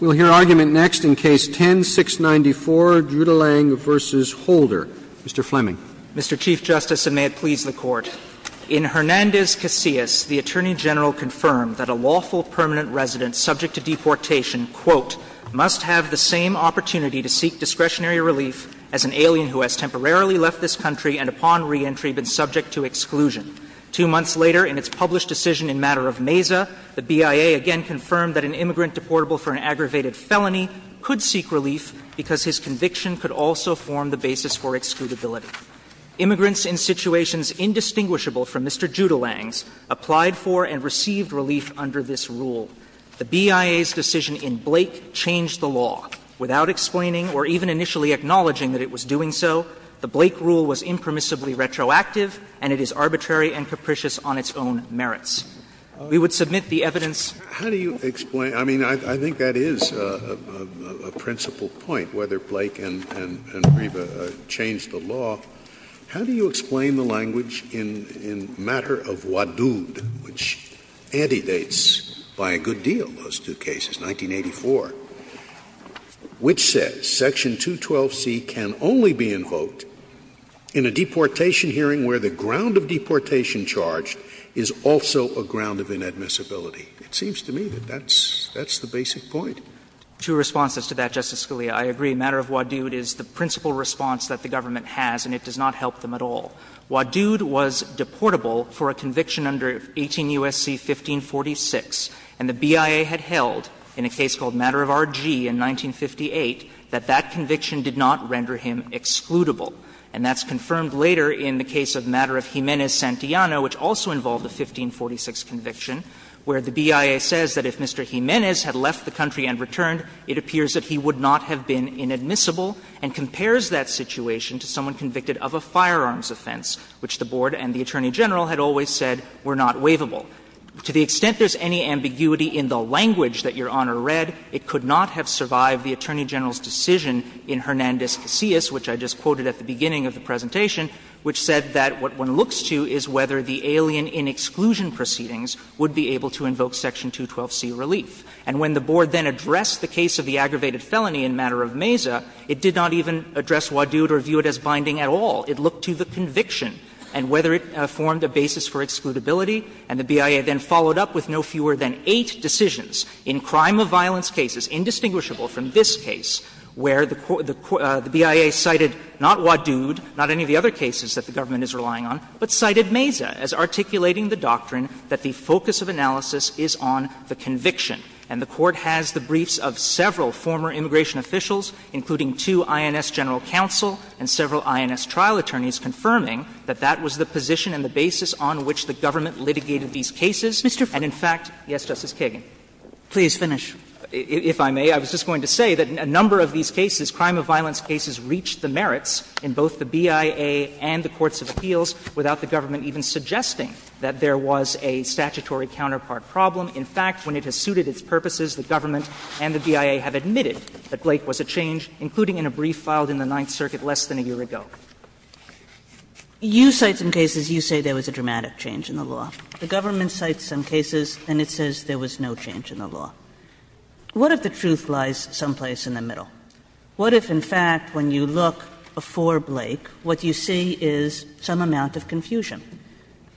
We'll hear argument next in Case 10-694, Drulang v. Holder. Mr. Fleming. Mr. Chief Justice, and may it please the Court, in Hernandez-Casillas, the Attorney General confirmed that a lawful permanent resident subject to deportation must have the same opportunity to seek discretionary relief as an alien who has temporarily left this country and upon reentry been subject to exclusion. Two months later, in its published decision in Matter of Mesa, the BIA again confirmed that an immigrant deportable for an aggravated felony could seek relief because his conviction could also form the basis for excludability. Immigrants in situations indistinguishable from Mr. Judulang's applied for and received relief under this rule. The BIA's decision in Blake changed the law. Without explaining or even initially acknowledging that it was doing so, the Blake rule was impermissibly retroactive and it is arbitrary and capricious on its own merits. We would submit the evidence. Scalia. How do you explain? I mean, I think that is a principal point, whether Blake and Grieba changed the law. How do you explain the language in Matter of Wadood, which antedates by a good deal 1984, which says Section 212C can only be invoked in a deportation hearing where the ground of deportation charged is also a ground of inadmissibility? It seems to me that that's the basic point. Two responses to that, Justice Scalia. I agree. Matter of Wadood is the principal response that the government has and it does not help them at all. Wadood was deportable for a conviction under 18 U.S.C. 1546, and the BIA had held in a case called Matter of R.G. in 1958 that that conviction did not render him excludable. And that's confirmed later in the case of Matter of Jimenez-Santillano, which also involved a 1546 conviction, where the BIA says that if Mr. Jimenez had left the country and returned, it appears that he would not have been inadmissible and compares that situation to someone convicted of a firearms offense, which the Board and the Attorney General had always said were not waivable. To the extent there's any ambiguity in the language that Your Honor read, it could not have survived the Attorney General's decision in Hernandez-Casillas, which I just quoted at the beginning of the presentation, which said that what one looks to is whether the alien in exclusion proceedings would be able to invoke Section 212C relief. And when the Board then addressed the case of the aggravated felony in Matter of Meza, it did not even address Wadood or view it as binding at all. It looked to the conviction and whether it formed a basis for excludability. And the BIA then followed up with no fewer than eight decisions in crime of violence cases, indistinguishable from this case, where the BIA cited not Wadood, not any of the other cases that the government is relying on, but cited Meza as articulating the doctrine that the focus of analysis is on the conviction. And the Court has the briefs of several former immigration officials, including two INS general counsel and several INS trial attorneys, confirming that that was the position and the basis on which the government litigated these cases. And in fact, yes, Justice Kagan. Kagan. Kagan. Kagan. Kagan. If I may, I was just going to say that a number of these cases, crime of violence cases, reached the merits in both the BIA and the courts of appeals without the government even suggesting that there was a statutory counterpart problem. In fact, when it has suited its purposes, the government and the BIA have admitted that Blake was a change, including in a brief filed in the Ninth Circuit less than a year ago. Kagan. Kagan. Kagan. You cite some cases, you say there was a dramatic change in the law. The government cites some cases and it says there was no change in the law. What if the truth lies someplace in the middle? What if, in fact, when you look before Blake, what you see is some amount of confusion?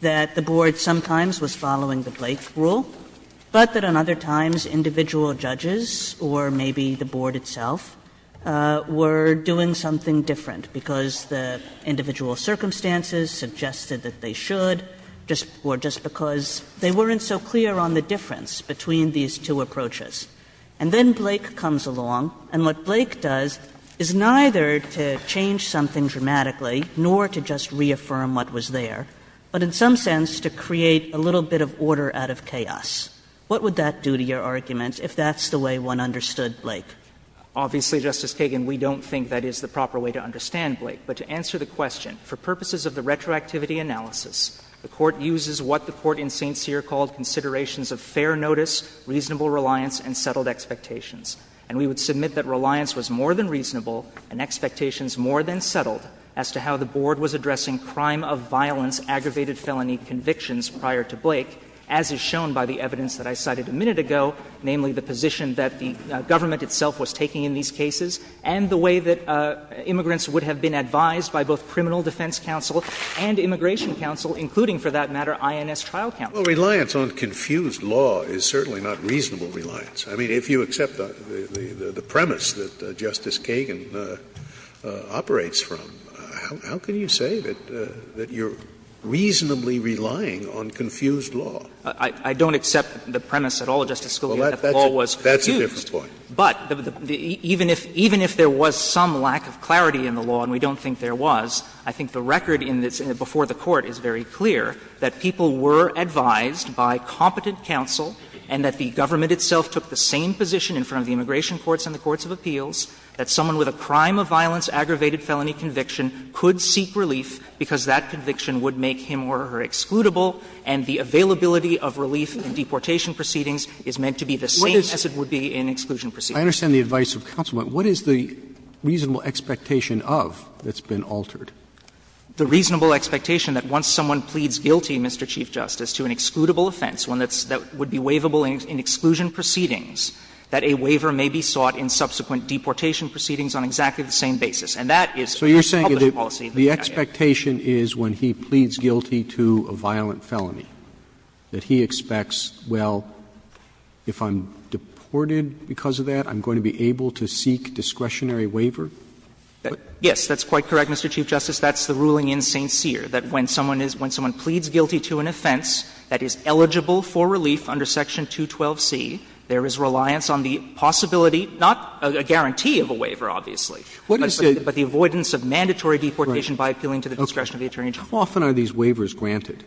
That the board sometimes was following the Blake rule, but that on other times individual judges or maybe the board itself were doing something different because the individual circumstances suggested that they should, or just because they weren't so clear on the difference between these two approaches. And then Blake comes along, and what Blake does is neither to change something dramatically nor to just reaffirm what was there, but in some sense to create a little bit of order out of chaos. What would that do to your argument if that's the way one understood Blake? Obviously, Justice Kagan, we don't think that is the proper way to understand Blake. But to answer the question, for purposes of the retroactivity analysis, the Court uses what the Court in St. Cyr called considerations of fair notice, reasonable reliance, and settled expectations. And we would submit that reliance was more than reasonable and expectations more than settled as to how the board was addressing crime of violence, aggravated felony convictions prior to Blake, as is shown by the evidence that I cited a minute ago, namely the position that the government itself was taking in these cases and the way that immigrants would have been advised by both Criminal Defense Counsel and Immigration Counsel, including, for that matter, INS Trial Counsel. Scalia. Well, reliance on confused law is certainly not reasonable reliance. I mean, if you accept the premise that Justice Kagan operates from, how can you say that you're reasonably relying on confused law? I don't accept the premise at all, Justice Scalia, that the law was confused. That's a different point. But even if there was some lack of clarity in the law, and we don't think there was, I think the record before the Court is very clear that people were advised by competent counsel and that the government itself took the same position in front of the immigration courts and the courts of appeals, that someone with a crime of violence aggravated felony conviction could seek relief because that conviction would make him or her excludable, and the availability of relief in deportation proceedings is meant to be the same as it would be in exclusion proceedings. I understand the advice of counsel, but what is the reasonable expectation of that's been altered? The reasonable expectation that once someone pleads guilty, Mr. Chief Justice, to an excludable offense, one that would be waivable in exclusion proceedings, that a waiver may be sought in subsequent deportation proceedings on exactly the same basis. And that is the published policy of the United States. Roberts. Roberts. So you're saying the expectation is when he pleads guilty to a violent felony, that he expects, well, if I'm deported because of that, I'm going to be able to seek discretionary waiver? Yes, that's quite correct, Mr. Chief Justice. That's the ruling in St. Cyr, that when someone is — when someone pleads guilty to an offense that is eligible for relief under section 212C, there is reliance on the possibility, not a guarantee of a waiver, obviously, but the avoidance of mandatory deportation by appealing to the discretion of the attorney general. How often are these waivers granted?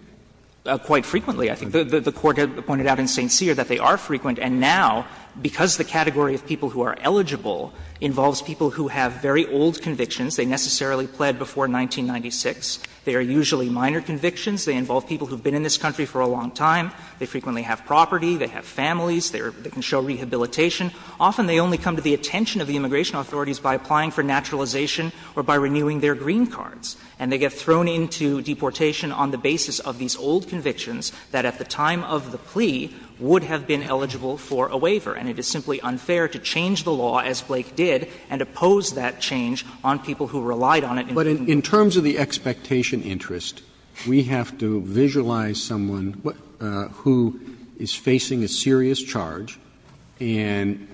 Quite frequently, I think. The Court pointed out in St. Cyr that they are frequent, and now, because the category of people who are eligible involves people who have very old convictions, they necessarily pled before 1996, they are usually minor convictions, they involve people who have been in this country for a long time, they frequently have property, they have families, they can show rehabilitation, often they only come to the attention of the immigration authorities by applying for naturalization or by renewing their green cards, and they get thrown into deportation on the basis of these old convictions that at the time of the plea would have been eligible for a waiver, and it is simply unfair to change the law, as Blake did, and oppose that change on people who relied on it in the beginning. Roberts, But in terms of the expectation interest, we have to visualize someone who is facing a serious charge and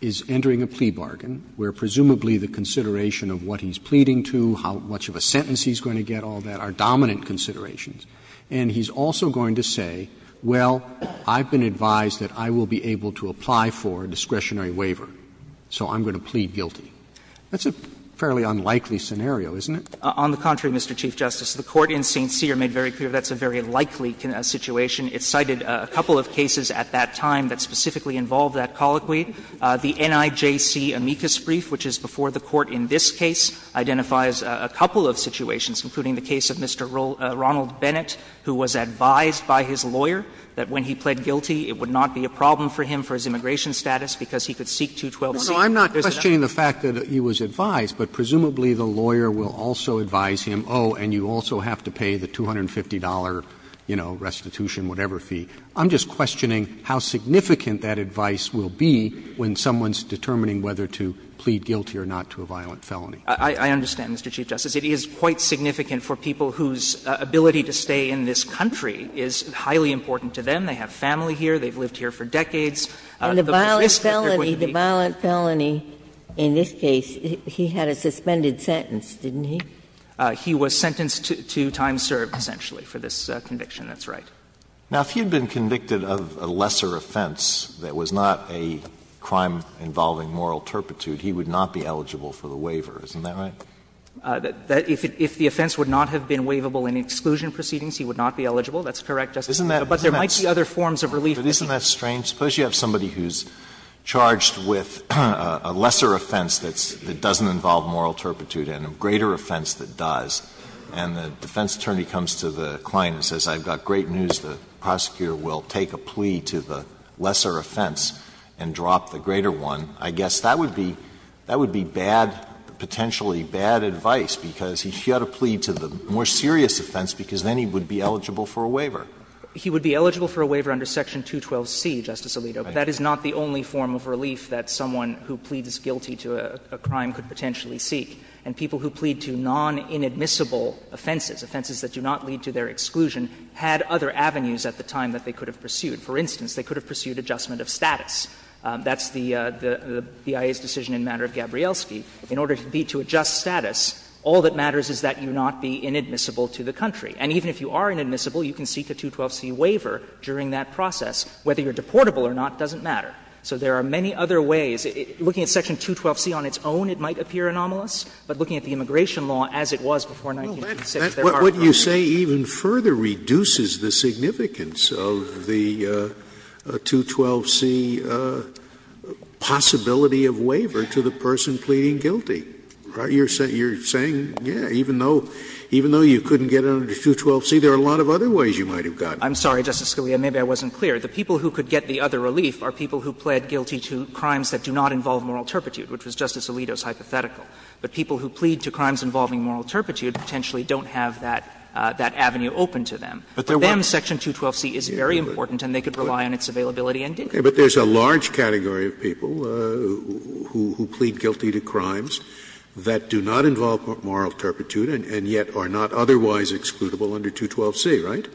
is entering a plea bargain, where presumably the consideration of what he's pleading to, how much of a sentence he's going to get, all that, are dominant considerations, and he's also going to say, well, I've been advised that I will be able to apply for a discretionary waiver, so I'm going to plead guilty. That's a fairly unlikely scenario, isn't it? On the contrary, Mr. Chief Justice. The Court in St. Cyr made very clear that's a very likely situation. It cited a couple of cases at that time that specifically involved that colloquy. The NIJC amicus brief, which is before the Court in this case, identifies a couple of situations, including the case of Mr. Ronald Bennett, who was advised by his lawyer that when he pled guilty, it would not be a problem for him for his immigration status, because he could seek 212c. Roberts, No, no, I'm not questioning the fact that he was advised, but presumably the lawyer will also advise him, oh, and you also have to pay the $250, you know, restitution, whatever fee. I'm just questioning how significant that advice will be when someone's determining whether to plead guilty or not to a violent felony. I understand, Mr. Chief Justice. It is quite significant for people whose ability to stay in this country is highly important to them. They have family here. They've lived here for decades. The risk that they're going to be here. And the violent felony in this case, he had a suspended sentence, didn't he? He was sentenced to time served, essentially, for this conviction. That's right. Now, if he had been convicted of a lesser offense that was not a crime involving moral turpitude, he would not be eligible for the waiver, isn't that right? If the offense would not have been waivable in exclusion proceedings, he would not be eligible. That's correct, Justice Sotomayor, but there might be other forms of relief. Isn't that strange? Suppose you have somebody who's charged with a lesser offense that doesn't involve moral turpitude and a greater offense that does, and the defense attorney comes to the client and says, I've got great news, the prosecutor will take a plea to the less, that would be bad, potentially bad advice, because he's got to plead to the more serious offense, because then he would be eligible for a waiver. He would be eligible for a waiver under Section 212c, Justice Alito, but that is not the only form of relief that someone who pleads guilty to a crime could potentially seek. And people who plead to non-inadmissible offenses, offenses that do not lead to their exclusion, had other avenues at the time that they could have pursued. For instance, they could have pursued adjustment of status. That's the BIA's decision in the matter of Gabrielski. In order to be to adjust status, all that matters is that you not be inadmissible to the country. And even if you are inadmissible, you can seek a 212c waiver during that process. Whether you're deportable or not doesn't matter. So there are many other ways. Looking at Section 212c on its own, it might appear anomalous, but looking at the immigration law as it was before 1986, there are other ways. Scalia's claim to say even further reduces the significance of the 212c possibility of waiver to the person pleading guilty. You are saying, yes, even though you couldn't get under 212c, there are a lot of other ways you might have gotten. I'm sorry, Justice Scalia. Maybe I wasn't clear. The people who could get the other relief are people who plead guilty to crimes that do not involve moral turpitude, which was Justice Alito's hypothetical. But people who plead to crimes involving moral turpitude potentially don't have that avenue open to them. But to them, Section 212c is very important and they could rely on its availability and dignity. But there's a large category of people who plead guilty to crimes that do not involve moral turpitude and yet are not otherwise excludable under 212c, right?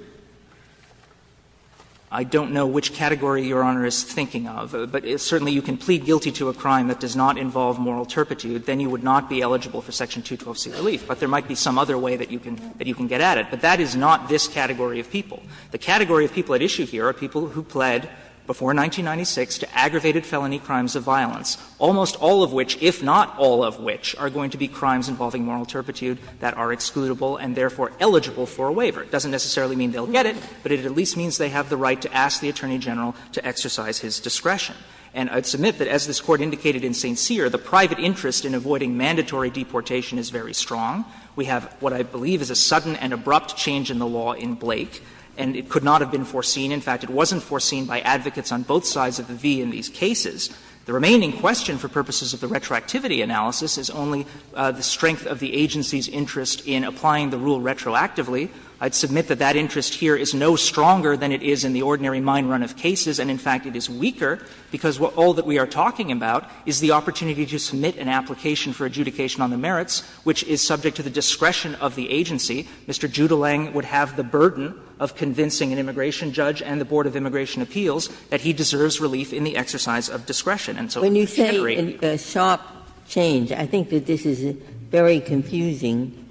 I don't know which category Your Honor is thinking of. But certainly you can plead guilty to a crime that does not involve moral turpitude. Then you would not be eligible for Section 212c relief. But there might be some other way that you can get at it. But that is not this category of people. The category of people at issue here are people who pled before 1996 to aggravated felony crimes of violence, almost all of which, if not all of which, are going to be crimes involving moral turpitude that are excludable and therefore eligible for a waiver. It doesn't necessarily mean they'll get it, but it at least means they have the right to ask the Attorney General to exercise his discretion. And I'd submit that as this Court indicated in St. Cyr, the private interest in avoiding mandatory deportation is very strong. We have what I believe is a sudden and abrupt change in the law in Blake, and it could not have been foreseen. In fact, it wasn't foreseen by advocates on both sides of the V in these cases. The remaining question for purposes of the retroactivity analysis is only the strength of the agency's interest in applying the rule retroactively. I'd submit that that interest here is no stronger than it is in the ordinary mine run of cases, and in fact it is weaker, because all that we are talking about is the opportunity to submit an application for adjudication on the merits, which is subject to the discretion of the agency. Mr. Judelang would have the burden of convincing an immigration judge and the Board of Immigration Appeals that he deserves relief in the exercise of discretion. And so we can't really do that. Ginsburg. Ginsburg. When you say a sharp change, I think that this is a very confusing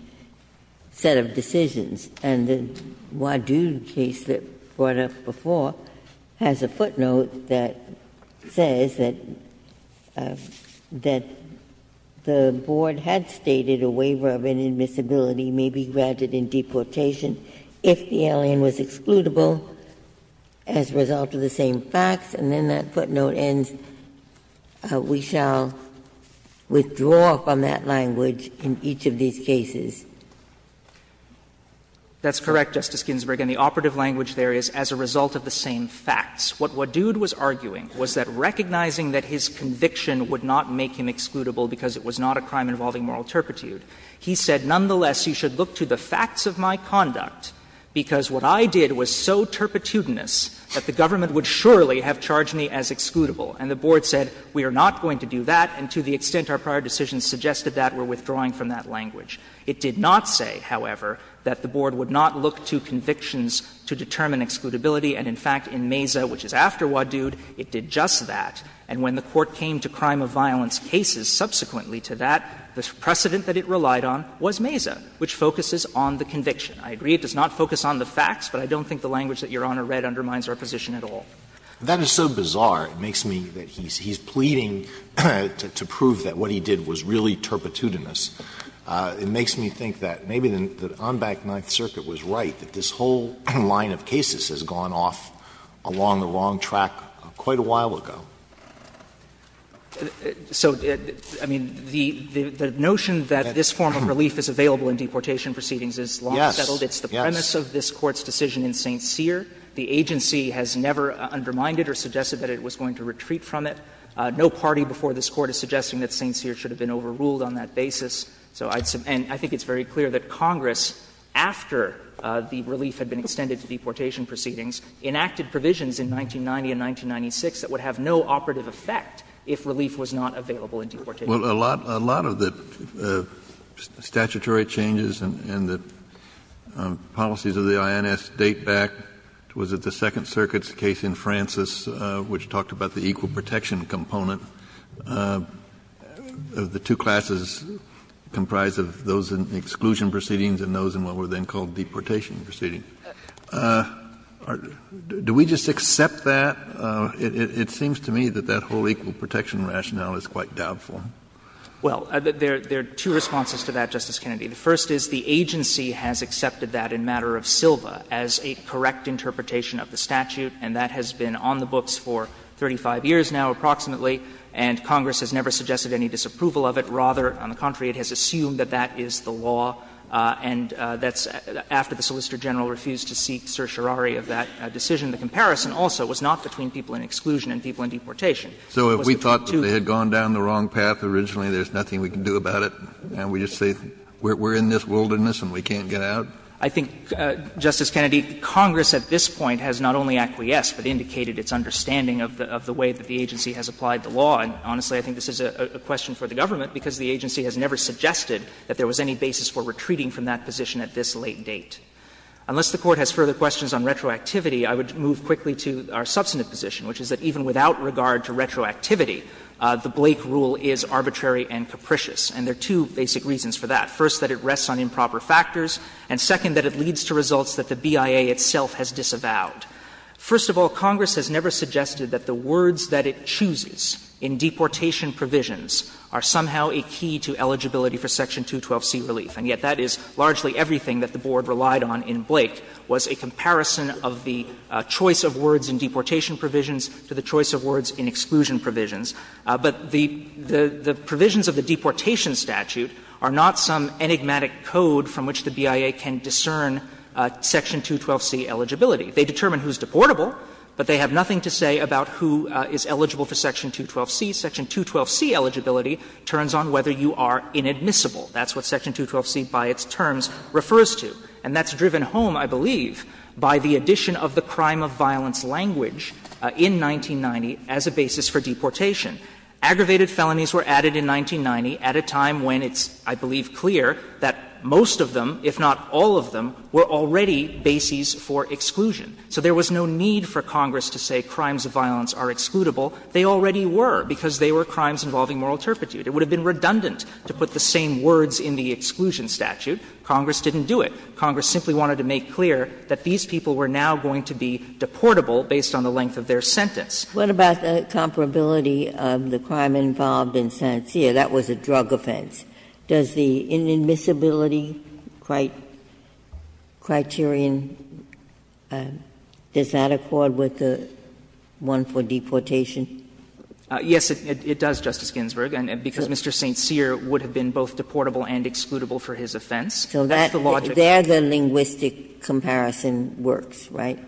set of decisions. And the Wadoo case that was brought up before has a footnote that says that the Board had stated a waiver of inadmissibility may be granted in deportation if the alien was excludable as a result of the same facts, and then that footnote ends, we shall withdraw from that language in each of these cases. That's correct, Justice Ginsburg, and the operative language there is, as a result of the same facts. What Wadood was arguing was that recognizing that his conviction would not make him excludable because it was not a crime involving moral turpitude, he said, nonetheless, you should look to the facts of my conduct, because what I did was so turpitudinous that the government would surely have charged me as excludable. And the Board said, we are not going to do that, and to the extent our prior decisions suggested that, we are withdrawing from that language. It did not say, however, that the Board would not look to convictions to determine excludability, and in fact, in Mesa, which is after Wadood, it did just that. And when the Court came to crime of violence cases subsequently to that, the precedent that it relied on was Mesa, which focuses on the conviction. I agree it does not focus on the facts, but I don't think the language that Your Honor read undermines our position at all. Alitoso, that is so bizarre. It makes me that he's pleading to prove that what he did was really turpitudinous. It makes me think that maybe the en banc Ninth Circuit was right, that this whole line of cases has gone off along the wrong track quite a while ago. So, I mean, the notion that this form of relief is available in deportation proceedings is long settled. It's the premise of this Court's decision in St. Cyr. The agency has never undermined it or suggested that it was going to retreat from it. No party before this Court is suggesting that St. Cyr should have been overruled on that basis. And I think it's very clear that Congress, after the relief had been extended to deportation proceedings, enacted provisions in 1990 and 1996 that would have no operative effect if relief was not available in deportation. Kennedy, a lot of the statutory changes and the policies of the INS date back to, was it the Second Circuit's case in Francis, which talked about the equal protection component of the two classes comprised of those in exclusion proceedings and those in what were then called deportation proceedings. Do we just accept that? It seems to me that that whole equal protection rationale is quite doubtful. Well, there are two responses to that, Justice Kennedy. The first is the agency has accepted that in matter of Silva as a correct interpretation of the statute, and that has been on the books for 35 years now, approximately, and Congress has never suggested any disapproval of it. Rather, on the contrary, it has assumed that that is the law, and that's after the Solicitor General refused to seek certiorari of that decision. The comparison also was not between people in exclusion and people in deportation. It was between two. Kennedy, so if we thought that they had gone down the wrong path originally, there's nothing we can do about it, and we just say we're in this wilderness and we can't get out? I think, Justice Kennedy, Congress at this point has not only acquiesced, but indicated its understanding of the way that the agency has applied the law. And honestly, I think this is a question for the government, because the agency has never suggested that there was any basis for retreating from that position at this late date. Unless the Court has further questions on retroactivity, I would move quickly to our substantive position, which is that even without regard to retroactivity, the Blake rule is arbitrary and capricious. And there are two basic reasons for that. First, that it rests on improper factors, and, second, that it leads to results that the BIA itself has disavowed. First of all, Congress has never suggested that the words that it chooses in deportation provisions are somehow a key to eligibility for Section 212c relief. And yet that is largely everything that the Board relied on in Blake, was a comparison of the choice of words in deportation provisions to the choice of words in exclusion provisions. But the provisions of the deportation statute are not some enigmatic code from which the BIA can discern Section 212c eligibility. They determine who is deportable, but they have nothing to say about who is eligible for Section 212c. Section 212c eligibility turns on whether you are inadmissible. That's what Section 212c by its terms refers to. And that's driven home, I believe, by the addition of the crime of violence language in 1990 as a basis for deportation. Aggravated felonies were added in 1990 at a time when it's, I believe, clear that most of them, if not all of them, were already bases for exclusion. So there was no need for Congress to say crimes of violence are excludable. They already were, because they were crimes involving moral turpitude. It would have been redundant to put the same words in the exclusion statute. Congress didn't do it. Congress simply wanted to make clear that these people were now going to be deportable based on the length of their sentence. What about the comparability of the crime involved in St. Cyr? That was a drug offense. Does the inadmissibility criterion, does that accord with the one for deportation? Yes, it does, Justice Ginsburg, because Mr. St. Cyr would have been both deportable and excludable for his offense. So that's the logic. So there the linguistic comparison works, right?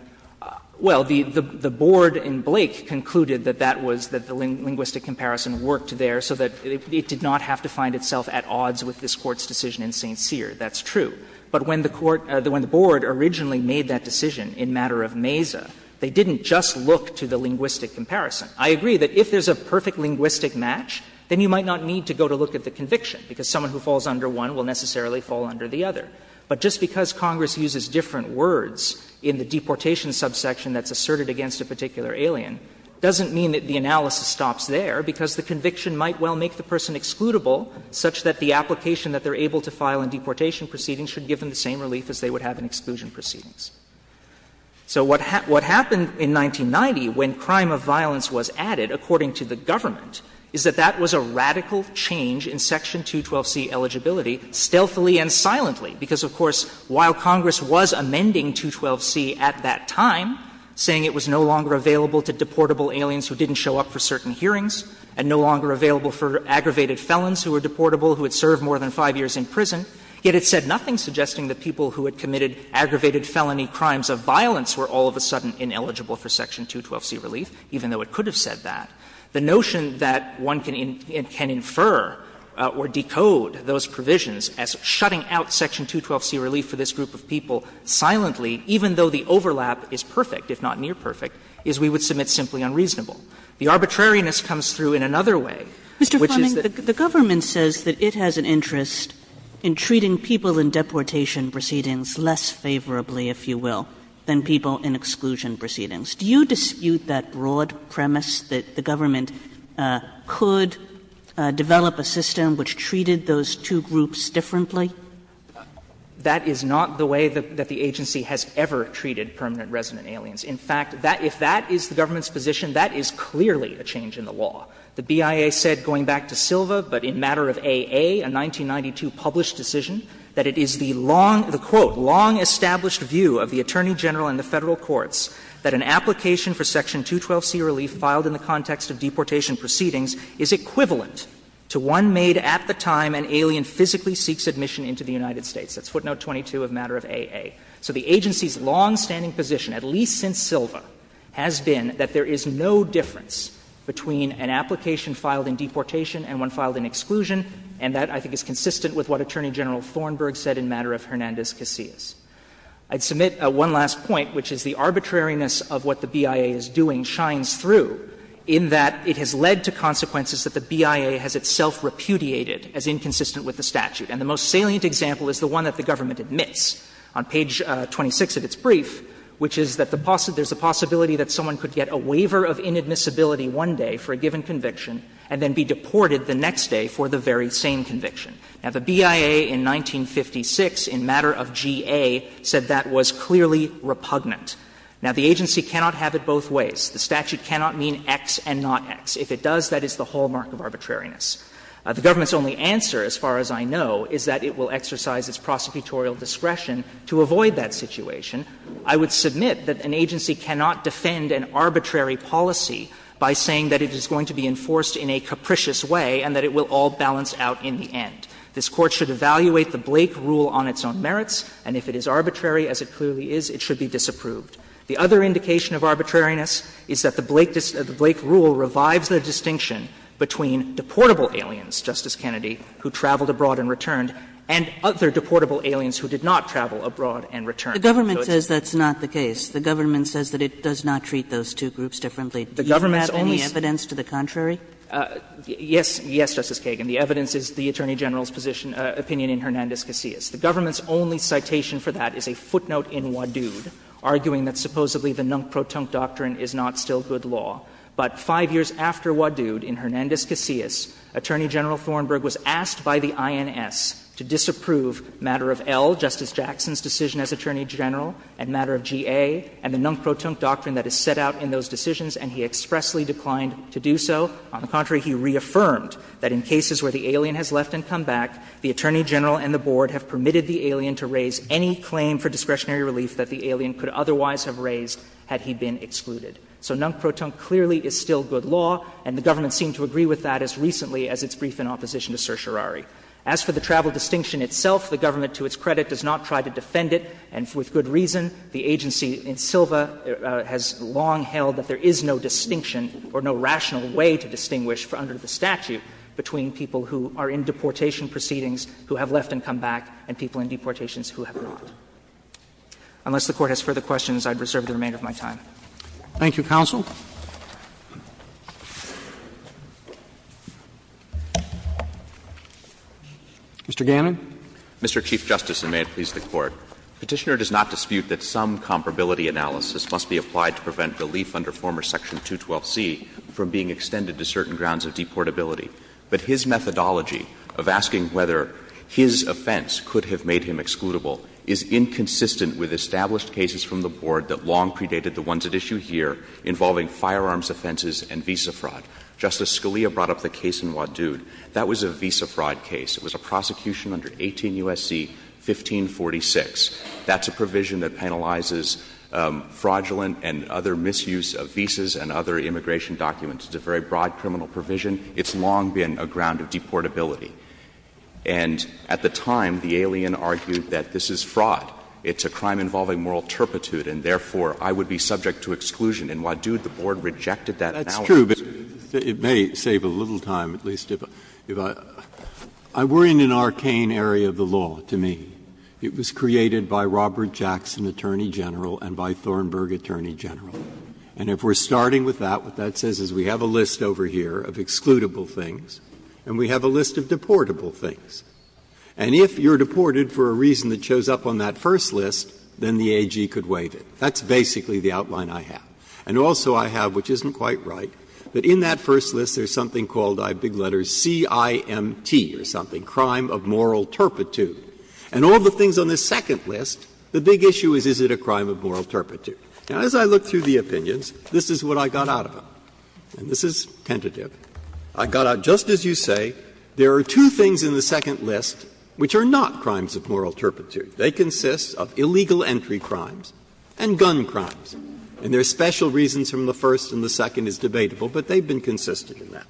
Well, the board in Blake concluded that that was, that the linguistic comparison worked there so that it did not have to find itself at odds with this Court's decision in St. Cyr. That's true. But when the court, when the board originally made that decision in matter of Mesa, they didn't just look to the linguistic comparison. I agree that if there's a perfect linguistic match, then you might not need to go to look at the conviction, because someone who falls under one will necessarily fall under the other. But just because Congress uses different words in the deportation subsection that's asserted against a particular alien doesn't mean that the analysis stops there, because the conviction might well make the person excludable such that the application that they're able to file in deportation proceedings should give them the same relief as they would have in exclusion proceedings. So what happened in 1990 when crime of violence was added, according to the government, is that that was a radical change in Section 212c eligibility, stealthily and silently, because, of course, while Congress was amending 212c at that time, saying it was no longer available to deportable aliens who didn't show up for certain hearings and no longer available for aggravated felons who were deportable who had served more than 5 years in prison, yet it said nothing, suggesting that people who had committed aggravated felony crimes of violence were all of a sudden ineligible for Section 212c relief, even though it could have said that. The notion that one can infer or decode those provisions as shutting out Section 212c relief for this group of people silently, even though the overlap is perfect, if not near perfect, is we would submit simply unreasonable. The arbitrariness comes through in another way, which is that the government says that it has an interest in treating people in deportation proceedings less favorably, if you will, than people in exclusion proceedings. Do you dispute that broad premise that the government could develop a system which treated those two groups differently? That is not the way that the agency has ever treated permanent resident aliens. In fact, if that is the government's position, that is clearly a change in the law. The BIA said, going back to Silva, but in matter of AA, a 1992 published decision, that it is the long, the quote, long-established view of the Attorney General and the Federal Courts that an application for Section 212c relief filed in the context of deportation proceedings is equivalent to one made at the time an alien physically seeks admission into the United States. That's footnote 22 of matter of AA. So the agency's longstanding position, at least since Silva, has been that there is no difference between an application filed in deportation and one filed in exclusion, and that I think is consistent with what Attorney General Thornburg said in matter of Hernandez-Casillas. I'd submit one last point, which is the arbitrariness of what the BIA is doing shines through in that it has led to consequences that the BIA has itself repudiated as inconsistent with the statute. And the most salient example is the one that the government admits on page 26 of its brief, which is that the possibility that someone could get a waiver of inadmissibility one day for a given conviction and then be deported the next day for the very same conviction. Now, the BIA in 1956 in matter of GA said that was clearly repugnant. Now, the agency cannot have it both ways. The statute cannot mean X and not X. If it does, that is the hallmark of arbitrariness. The government's only answer, as far as I know, is that it will exercise its prosecutorial discretion to avoid that situation. I would submit that an agency cannot defend an arbitrary policy by saying that it is going to be enforced in a capricious way and that it will all balance out in the end. This Court should evaluate the Blake rule on its own merits, and if it is arbitrary as it clearly is, it should be disapproved. The other indication of arbitrariness is that the Blake rule revives the distinction between deportable aliens, Justice Kennedy, who traveled abroad and returned, and other deportable aliens who did not travel abroad and returned. Kagan. Kagan. The government says that's not the case. The government says that it does not treat those two groups differently. Do you have any evidence to the contrary? Yes, Justice Kagan. The evidence is the Attorney General's position, opinion in Hernandez-Casillas. The government's only citation for that is a footnote in Wadud, arguing that supposedly the non-proton doctrine is not still good law. But five years after Wadud, in Hernandez-Casillas, Attorney General Thornburg was asked by the INS to disapprove matter of L, Justice Jackson's decision as Attorney General and matter of G.A. and the non-proton doctrine that is set out in those decisions, and he expressly declined to do so. On the contrary, he reaffirmed that in cases where the alien has left and come back, the Attorney General and the Board have permitted the alien to raise any claim for discretionary relief that the alien could otherwise have raised had he been excluded. So non-proton clearly is still good law, and the government seemed to agree with that as recently as its brief in opposition to certiorari. As for the travel distinction itself, the government, to its credit, does not try to defend it, and with good reason. The agency in Silva has long held that there is no distinction or no rational way to distinguish, under the statute, between people who are in deportation proceedings who have left and come back and people in deportations who have not. Unless the Court has further questions, I would reserve the remainder of my time. Thank you, counsel. Mr. Gannon. Mr. Chief Justice, and may it please the Court. Petitioner does not dispute that some comparability analysis must be applied to prevent relief under former section 212C from being extended to certain grounds of deportability. But his methodology of asking whether his offense could have made him excludable is inconsistent with established cases from the Board that long predated the ones at issue here involving firearms offenses and visa fraud. Justice Scalia brought up the case in Wadud. That was a visa fraud case. It was a prosecution under 18 U.S.C. 1546. That's a provision that penalizes fraudulent and other misuse of visas and other immigration documents. It's a very broad criminal provision. It's long been a ground of deportability. And at the time, the alien argued that this is fraud. It's a crime involving moral turpitude, and therefore I would be subject to exclusion. In Wadud, the Board rejected that analysis. Breyer, it's true, but it may save a little time, at least, if I were in an arcane area of the law, to me. It was created by Robert Jackson, Attorney General, and by Thornburg, Attorney General. And if we're starting with that, what that says is we have a list over here of excludable things, and we have a list of deportable things. And if you're deported for a reason that shows up on that first list, then the AG could waive it. That's basically the outline I have. And also I have, which isn't quite right, that in that first list there's something called, I have big letters, CIMT or something, crime of moral turpitude. And all the things on this second list, the big issue is, is it a crime of moral turpitude. Now, as I look through the opinions, this is what I got out of them, and this is tentative. I got out, just as you say, there are two things in the second list which are not crimes of moral turpitude. They consist of illegal entry crimes and gun crimes. And there are special reasons from the first and the second is debatable, but they've been consistent in that.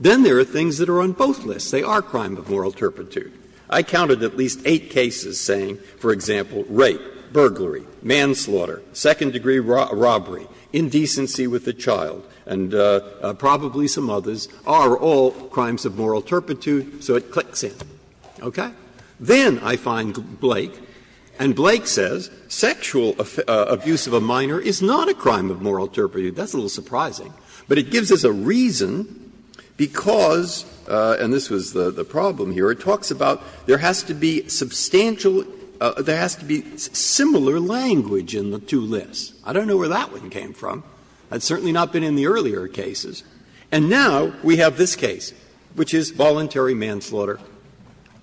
Then there are things that are on both lists. They are crime of moral turpitude. I counted at least eight cases saying, for example, rape, burglary, manslaughter, second-degree robbery, indecency with a child, and probably some others are all crimes of moral turpitude, so it clicks in. Okay? Then I find Blake, and Blake says sexual abuse of a minor is not a crime of moral turpitude. That's a little surprising. But it gives us a reason because, and this was the problem here, it talks about there has to be substantial – there has to be similar language in the two lists. I don't know where that one came from. That's certainly not been in the earlier cases. And now we have this case, which is voluntary manslaughter.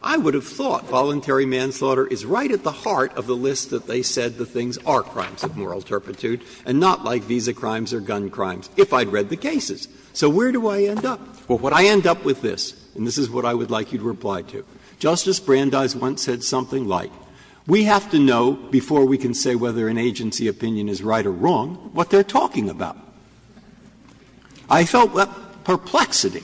I would have thought voluntary manslaughter is right at the heart of the list that they said the things are crimes of moral turpitude and not like visa crimes or gun crimes, if I had read the cases. So where do I end up? Well, what I end up with this, and this is what I would like you to reply to. Justice Brandeis once said something like, we have to know before we can say whether an agency opinion is right or wrong what they are talking about. I felt perplexity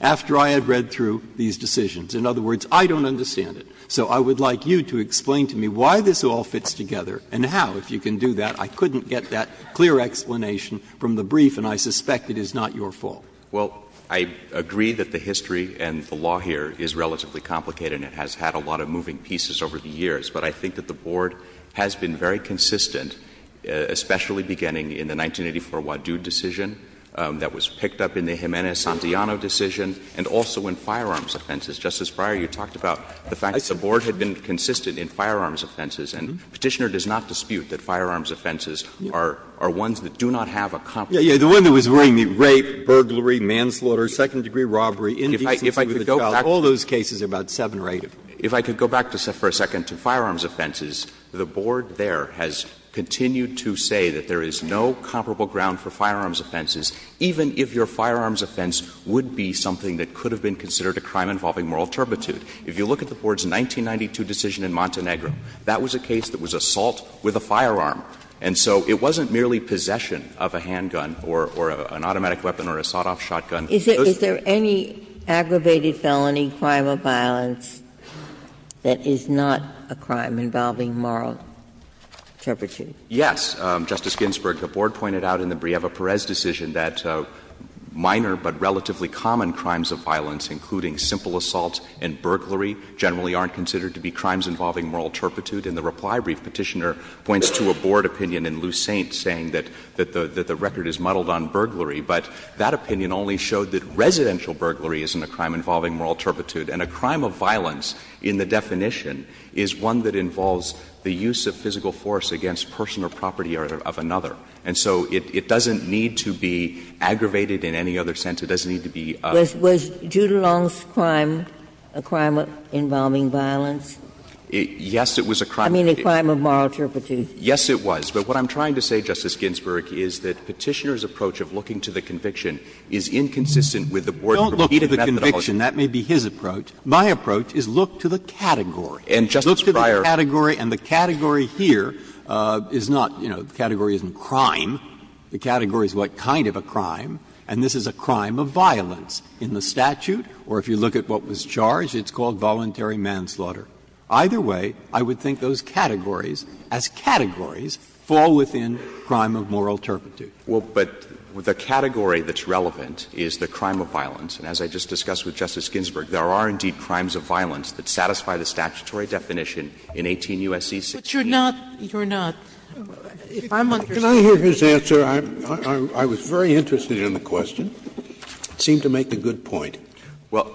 after I had read through these decisions. In other words, I don't understand it. So I would like you to explain to me why this all fits together and how, if you can do that. I couldn't get that clear explanation from the brief, and I suspect it is not your fault. Well, I agree that the history and the law here is relatively complicated and it has had a lot of moving pieces over the years. But I think that the Board has been very consistent, especially beginning in the 1984 Wadu decision that was picked up in the Jimenez-Santillano decision and also in firearms offenses. Justice Breyer, you talked about the fact that the Board had been consistent in firearms offenses. And Petitioner does not dispute that firearms offenses are ones that do not have a comparison. Breyer, the one that was worrying me, rape, burglary, manslaughter, second-degree robbery, indecency with a child, all those cases are about seven-rated. If I could go back for a second to firearms offenses, the Board there has continued to say that there is no comparable ground for firearms offenses, even if your firearms offense would be something that could have been considered a crime involving moral turpitude. If you look at the Board's 1992 decision in Montenegro, that was a case that was assault with a firearm. And so it wasn't merely possession of a handgun or an automatic weapon or a sawed-off shotgun. Is there any aggravated felony, crime of violence, that is not a crime involving moral turpitude? Yes. Justice Ginsburg, the Board pointed out in the Brieva-Perez decision that minor but relatively common crimes of violence, including simple assault and burglary, generally aren't considered to be crimes involving moral turpitude. And the reply brief, Petitioner points to a Board opinion in Lussaint saying that the record is muddled on burglary. But that opinion only showed that residential burglary isn't a crime involving moral turpitude. And a crime of violence, in the definition, is one that involves the use of physical force against person or property of another. And so it doesn't need to be aggravated in any other sense. It doesn't need to be a. Was Judelung's crime a crime involving violence? Yes, it was a crime. I mean, a crime of moral turpitude. Yes, it was. But what I'm trying to say, Justice Ginsburg, is that Petitioner's approach of looking to the conviction is inconsistent with the Board's repeated methodology. Don't look to the conviction. That may be his approach. My approach is look to the category. And, Justice Breyer. And the category here is not, you know, the category isn't crime. The category is what kind of a crime. And this is a crime of violence in the statute, or if you look at what was charged, it's called voluntary manslaughter. Either way, I would think those categories, as categories, fall within crime of moral turpitude. Well, but the category that's relevant is the crime of violence. And the category that's relevant is the crime of voluntary manslaughter. So it's a category of violence that satisfies the statutory definition in 18 U.S.C. 68. But you're not – you're not. If I'm understanding. Can I hear his answer? I'm – I was very interested in the question. It seemed to make a good point. Well,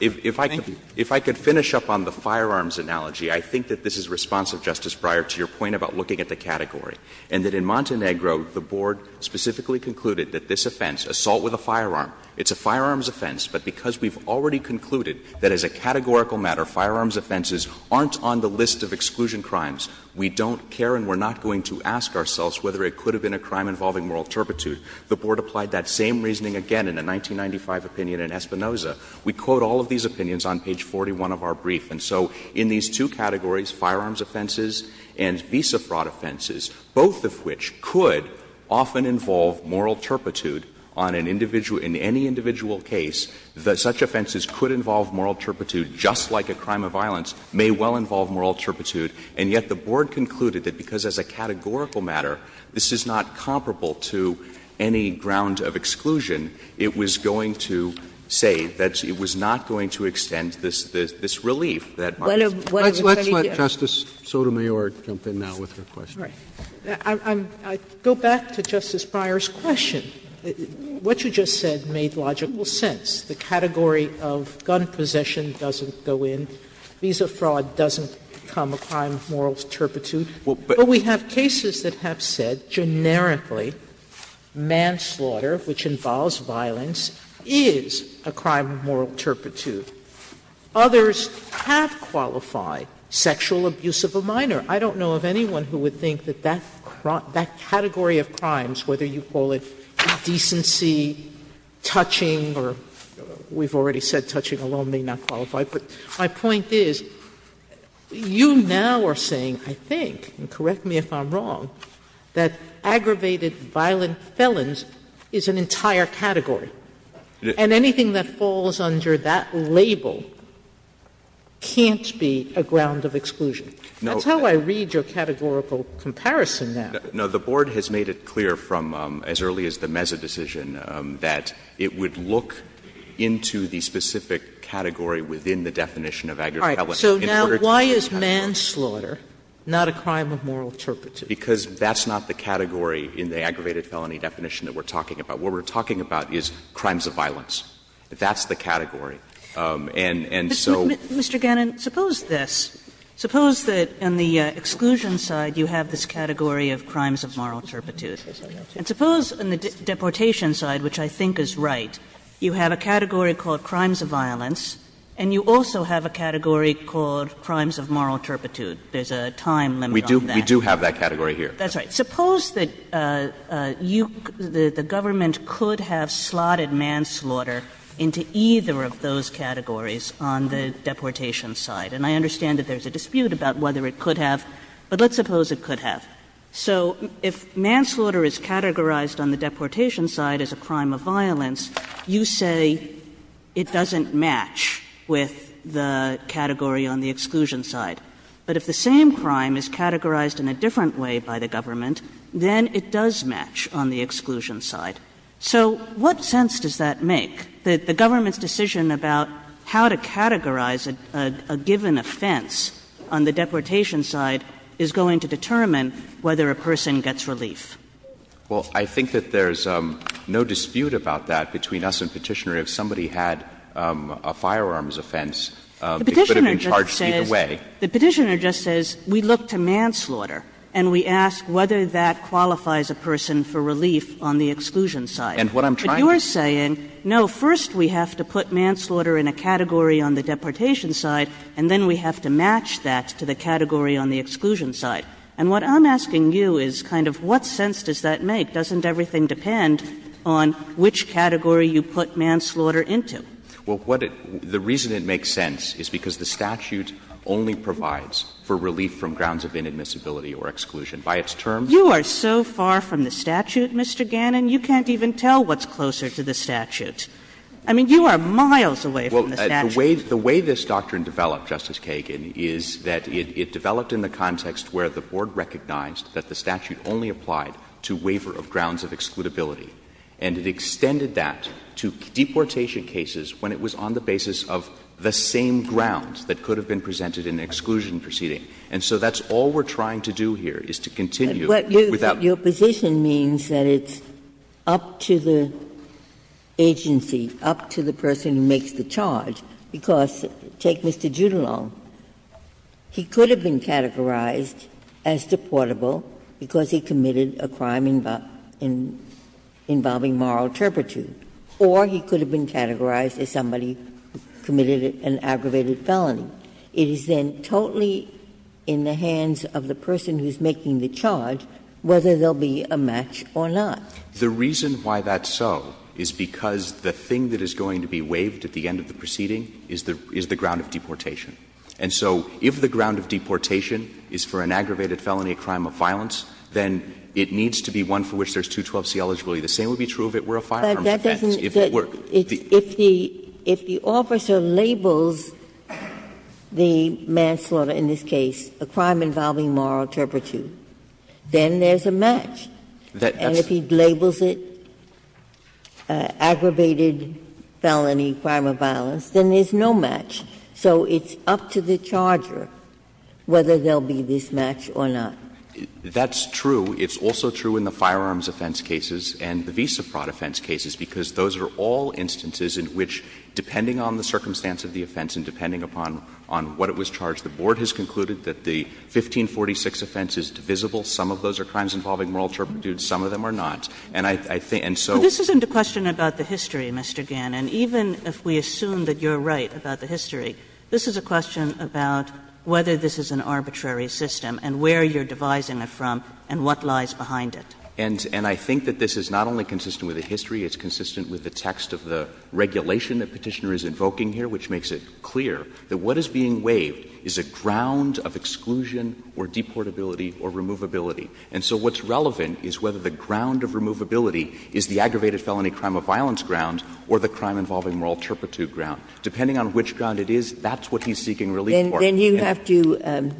if I could finish up on the firearms analogy, I think that this is responsive, Justice Breyer, to your point about looking at the category, and that in Montenegro the Board specifically concluded that this offense, assault with a firearm, it's a firearms offense, but because we've already concluded that as a categorical matter, firearms offenses aren't on the list of exclusion crimes, we don't care and we're not going to ask ourselves whether it could have been a crime involving moral turpitude, the Board applied that same reasoning again in a 1995 opinion in Espinoza. We quote all of these opinions on page 41 of our brief. And so in these two categories, firearms offenses and visa fraud offenses, both of which could often involve moral turpitude on an individual – in any individual case, that such offenses could involve moral turpitude, just like a crime of violence, may well involve moral turpitude, and yet the Board concluded that because as a categorical matter, this is not comparable to any ground of exclusion, it was going to say that it was not going to extend this – this relief that Montenegro has. Let's let Justice Sotomayor jump in now with her question. SOTOMAYOR. I go back to Justice Breyer's question. What you just said made logical sense. The category of gun possession doesn't go in. Visa fraud doesn't become a crime of moral turpitude. But we have cases that have said, generically, manslaughter, which involves violence, is a crime of moral turpitude. Others have qualified sexual abuse of a minor. I don't know of anyone who would think that that – that category of crimes, whether you call it decency, touching, or we've already said touching alone may not qualify. But my point is, you now are saying, I think, and correct me if I'm wrong, that aggravated violent felons is an entire category. And anything that falls under that label can't be a ground of exclusion. That's how I read your categorical comparison now. No. The board has made it clear from as early as the Meza decision that it would look into the specific category within the definition of aggravated felony. All right. So now why is manslaughter not a crime of moral turpitude? Because that's not the category in the aggravated felony definition that we're talking about. What we're talking about is crimes of violence. That's the category. And so – But, Mr. Gannon, suppose this. Suppose that on the exclusion side you have this category of crimes of moral turpitude. And suppose on the deportation side, which I think is right, you have a category called crimes of violence and you also have a category called crimes of moral turpitude. There's a time limit on that. We do have that category here. That's right. But suppose that you – the government could have slotted manslaughter into either of those categories on the deportation side. And I understand that there's a dispute about whether it could have, but let's suppose it could have. So if manslaughter is categorized on the deportation side as a crime of violence, you say it doesn't match with the category on the exclusion side. But if the same crime is categorized in a different way by the government, then it does match on the exclusion side. So what sense does that make, that the government's decision about how to categorize a given offense on the deportation side is going to determine whether a person gets relief? Well, I think that there's no dispute about that between us and Petitioner. If somebody had a firearms offense, it could have been charged either way. The Petitioner just says we look to manslaughter and we ask whether that qualifies a person for relief on the exclusion side. And what I'm trying to say is – But you're saying, no, first we have to put manslaughter in a category on the deportation side, and then we have to match that to the category on the exclusion side. And what I'm asking you is kind of what sense does that make? Doesn't everything depend on which category you put manslaughter into? Well, what it – the reason it makes sense is because the statute only provides for relief from grounds of inadmissibility or exclusion. By its terms – You are so far from the statute, Mr. Gannon. You can't even tell what's closer to the statute. I mean, you are miles away from the statute. Well, the way this doctrine developed, Justice Kagan, is that it developed in the context where the Board recognized that the statute only applied to waiver of grounds of excludability. And it extended that to deportation cases when it was on the basis of the same grounds that could have been presented in an exclusion proceeding. And so that's all we're trying to do here, is to continue without – But your position means that it's up to the agency, up to the person who makes the charge, because take Mr. Judilon. He could have been categorized as deportable because he committed a crime involving moral turpitude, or he could have been categorized as somebody who committed an aggravated felony. It is then totally in the hands of the person who is making the charge whether there will be a match or not. The reason why that's so is because the thing that is going to be waived at the end of the proceeding is the ground of deportation. And so if the ground of deportation is for an aggravated felony, a crime of violence, then it needs to be one for which there's 212c eligibility. The same would be true if it were a firearm offense. If it were. If the officer labels the manslaughter, in this case, a crime involving moral turpitude, then there's a match. And if he labels it aggravated felony, crime of violence, then there's no match. So it's up to the charger whether there will be this match or not. That's true. It's also true in the firearms offense cases and the visa fraud offense cases, because those are all instances in which, depending on the circumstance of the offense and depending upon what it was charged, the Board has concluded that the 1546 offense is divisible. Some of those are crimes involving moral turpitude, some of them are not. And I think, and so. Kagan. Kagan. Kagan. Kagan. Kagan. Kagan. Kagan. Kagan. Kagan. Kagan. Kagan. Kagan. Kagan. And I think that this is not only consistent with the history, it's consistent with the text of the regulation that Petitioner is invoking here, which makes it clear that what is being waived is a ground of exclusion or deportability or removability. And so what's relevant is whether the ground of removability is the aggravated felony, crime of violence ground or the crime involving moral turpitude ground. Depending on which ground it is, that's what he's seeking relief for. Ginsburg. Then you have to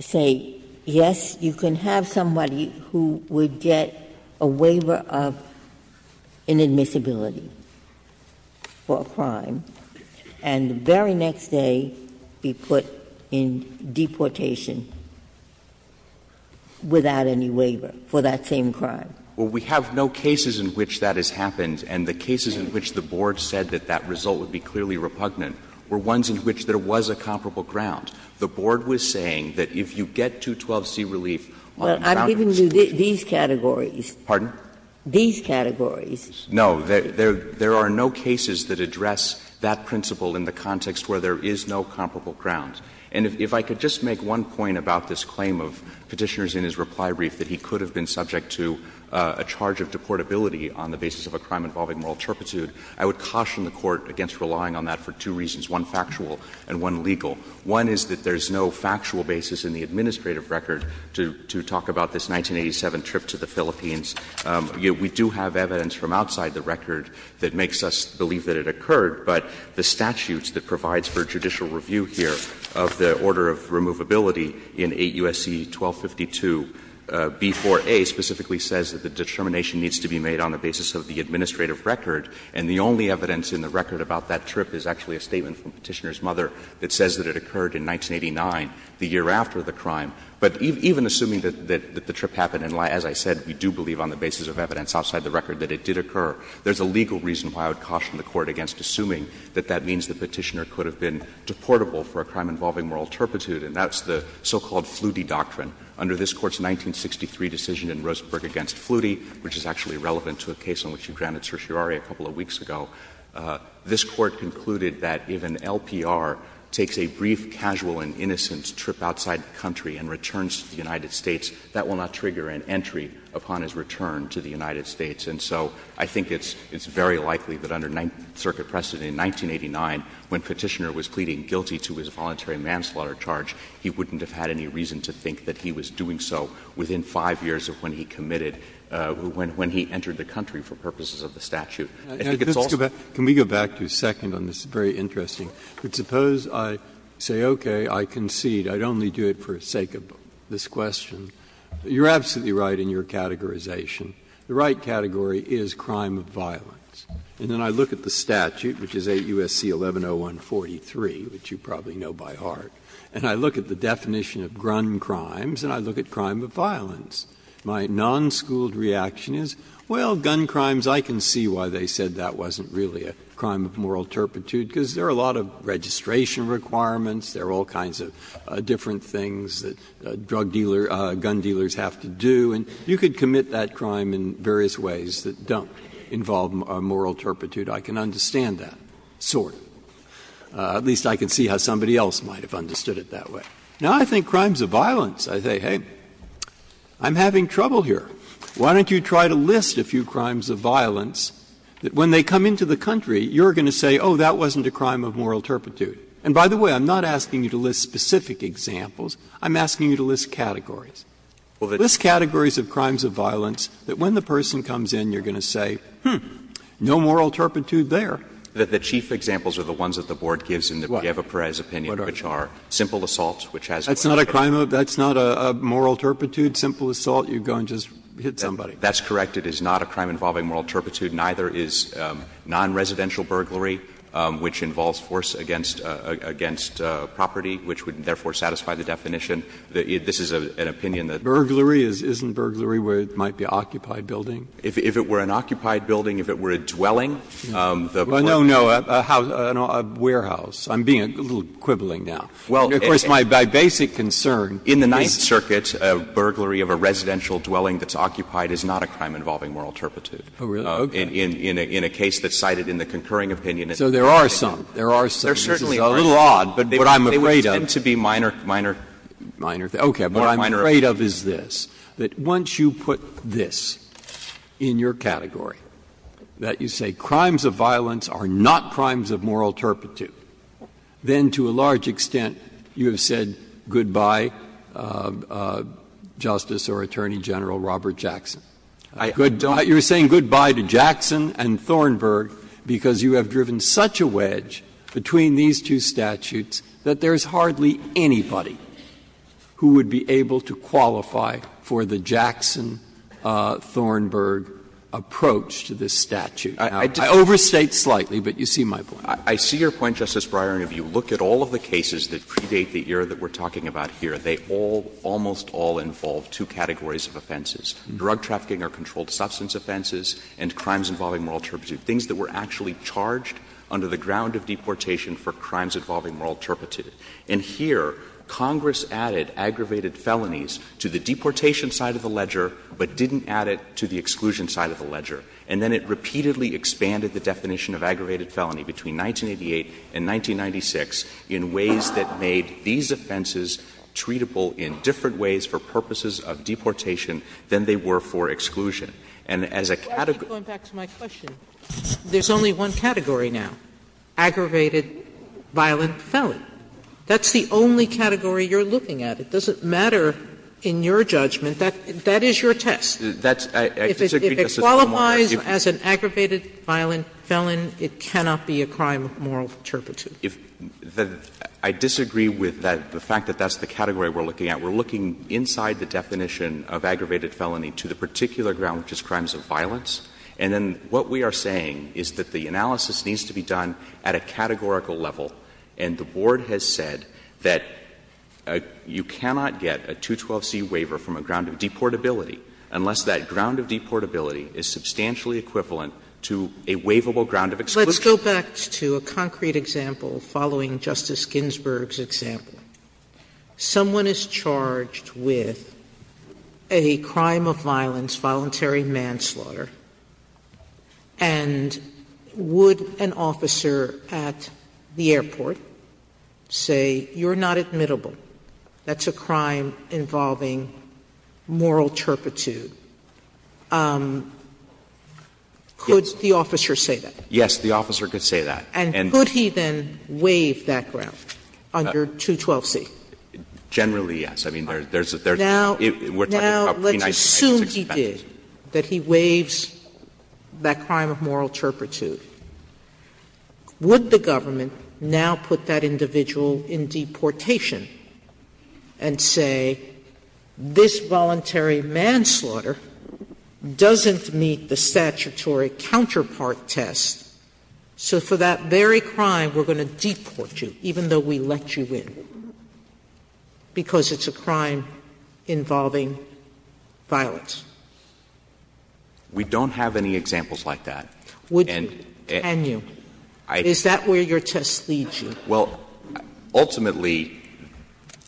say, yes, you can have somebody who would get a waiver of inadmissibility for a crime and the very next day be put in deportation without any waiver for that same crime. Well, we have no cases in which that has happened. And the cases in which the board said that that result would be clearly repugnant were ones in which there was a comparable ground. The board was saying that if you get 212c relief on the boundaries. Well, I'm giving you these categories. Pardon? These categories. No. There are no cases that address that principle in the context where there is no comparable ground. And if I could just make one point about this claim of Petitioner's in his reply brief that he could have been subject to a charge of deportability on the basis of a crime involving moral turpitude, I would caution the Court against relying on that for two reasons, one factual and one legal. One is that there is no factual basis in the administrative record to talk about this 1987 trip to the Philippines. We do have evidence from outside the record that makes us believe that it occurred, but the statutes that provides for judicial review here of the order of removability in 8 U.S.C. 1252, B4A, specifically says that the determination needs to be made on the basis of the administrative record, and the only evidence in the record about that trip is actually a statement from Petitioner's mother that says that it occurred in 1989, the year after the crime. But even assuming that the trip happened, and as I said, we do believe on the basis of evidence outside the record that it did occur, there is a legal reason why I would caution the Court against assuming that that means the Petitioner could have been deportable for a crime involving moral turpitude, and that's the so-called Flutie doctrine under this Court's 1963 decision in Roseburg against Flutie, which is actually relevant to a case on which you granted certiorari a couple of weeks ago. This Court concluded that if an LPR takes a brief, casual, and innocent trip outside the country and returns to the United States, that will not trigger an entry upon his return to the United States. And so I think it's very likely that under circuit precedent in 1989, when Petitioner was pleading guilty to his voluntary manslaughter charge, he wouldn't have had any reason to think that he was doing so within 5 years of when he committed, when he entered the country for purposes of the statute. I think it's also the case that the Petitioner's claim is not true. Breyer. Can we go back to a second on this? It's very interesting. Suppose I say, okay, I concede, I'd only do it for the sake of this question. You're absolutely right in your categorization. The right category is crime of violence. And then I look at the statute, which is 8 U.S.C. 11-0143, which you probably know by heart, and I look at the definition of grunt crimes, and I look at crime of violence. My non-schooled reaction is, well, gun crimes, I can see why they said that wasn't really a crime of moral turpitude, because there are a lot of registration requirements, there are all kinds of different things that drug dealer, gun dealers have to do, and you could commit that crime in various ways that don't involve moral turpitude. I can understand that, sort of. At least I can see how somebody else might have understood it that way. Now, I think crimes of violence, I say, hey, I'm having trouble here. Why don't you try to list a few crimes of violence that when they come into the country, you're going to say, oh, that wasn't a crime of moral turpitude. And by the way, I'm not asking you to list specific examples. I'm asking you to list categories. List categories of crimes of violence that when the person comes in, you're going to say, hmm, no moral turpitude there. That the chief examples are the ones that the Board gives in the Brieva-Perez opinion, which are simple assaults, which has to do with violence. That's not a crime of – that's not a moral turpitude, simple assault, you go and just hit somebody. That's correct. It is not a crime involving moral turpitude. Neither is non-residential burglary, which involves force against property, which would, therefore, satisfy the definition. This is an opinion that the Board has. Burglary isn't burglary where it might be an occupied building? If it were an occupied building, if it were a dwelling, the Burglary. Well, no, no, a house, a warehouse. I'm being a little quibbling now. Well, and of course, my basic concern is. In the Ninth Circuit, a burglary of a residential dwelling that's occupied is not a crime involving moral turpitude. Oh, really? Okay. In a case that's cited in the concurring opinion. So there are some. There are some. There are certainly a few. This is a little odd, but what I'm afraid of. They would tend to be minor, minor. Minor. Okay. But what I'm afraid of is this, that once you put this in your category, that you say crimes of violence are not crimes of moral turpitude, then to a large extent you have said goodbye, Justice or Attorney General Robert Jackson. I don't. You're saying goodbye to Jackson and Thornburg because you have driven such a wedge between these two statutes that there's hardly anybody who would be able to qualify for the Jackson-Thornburg approach to this statute. I overstate slightly, but you see my point. I see your point, Justice Breyer, and if you look at all of the cases that predate the era that we're talking about here, they all, almost all, involve two categories of offenses. Drug trafficking or controlled substance offenses and crimes involving moral turpitude, things that were actually charged under the ground of deportation for crimes involving moral turpitude. And here, Congress added aggravated felonies to the deportation side of the ledger but didn't add it to the exclusion side of the ledger. And then it repeatedly expanded the definition of aggravated felony between 1988 and 1996 in ways that made these offenses treatable in different ways for purposes of deportation than they were for exclusion. And as a category of offenses, there's only one category now, aggravated violent felony. That's the only category you're looking at. It doesn't matter in your judgment. That is your test. If it qualifies as an aggravated violent felon, it cannot be a crime of moral turpitude. I disagree with the fact that that's the category we're looking at. We're looking inside the definition of aggravated felony to the particular ground, which is crimes of violence. And then what we are saying is that the analysis needs to be done at a categorical level, and the Board has said that you cannot get a 212c waiver from a ground of deportability unless that ground of deportability is substantially equivalent to a waivable ground of exclusion. Sotomayor, let's go back to a concrete example following Justice Ginsburg's example. Someone is charged with a crime of violence, voluntary manslaughter, and would an officer at the airport say, you're not admittable, that's a crime involving moral turpitude could the officer say that? Yes, the officer could say that. And could he then waive that ground under 212c? Generally, yes. I mean, there's a third. Now, let's assume he did, that he waives that crime of moral turpitude. Would the government now put that individual in deportation and say, this voluntary manslaughter doesn't meet the statutory counterpart test, so for that very crime, we're going to deport you, even though we let you in, because it's a crime involving violence? We don't have any examples like that. Would you? Can you? Is that where your test leads you? Well, ultimately,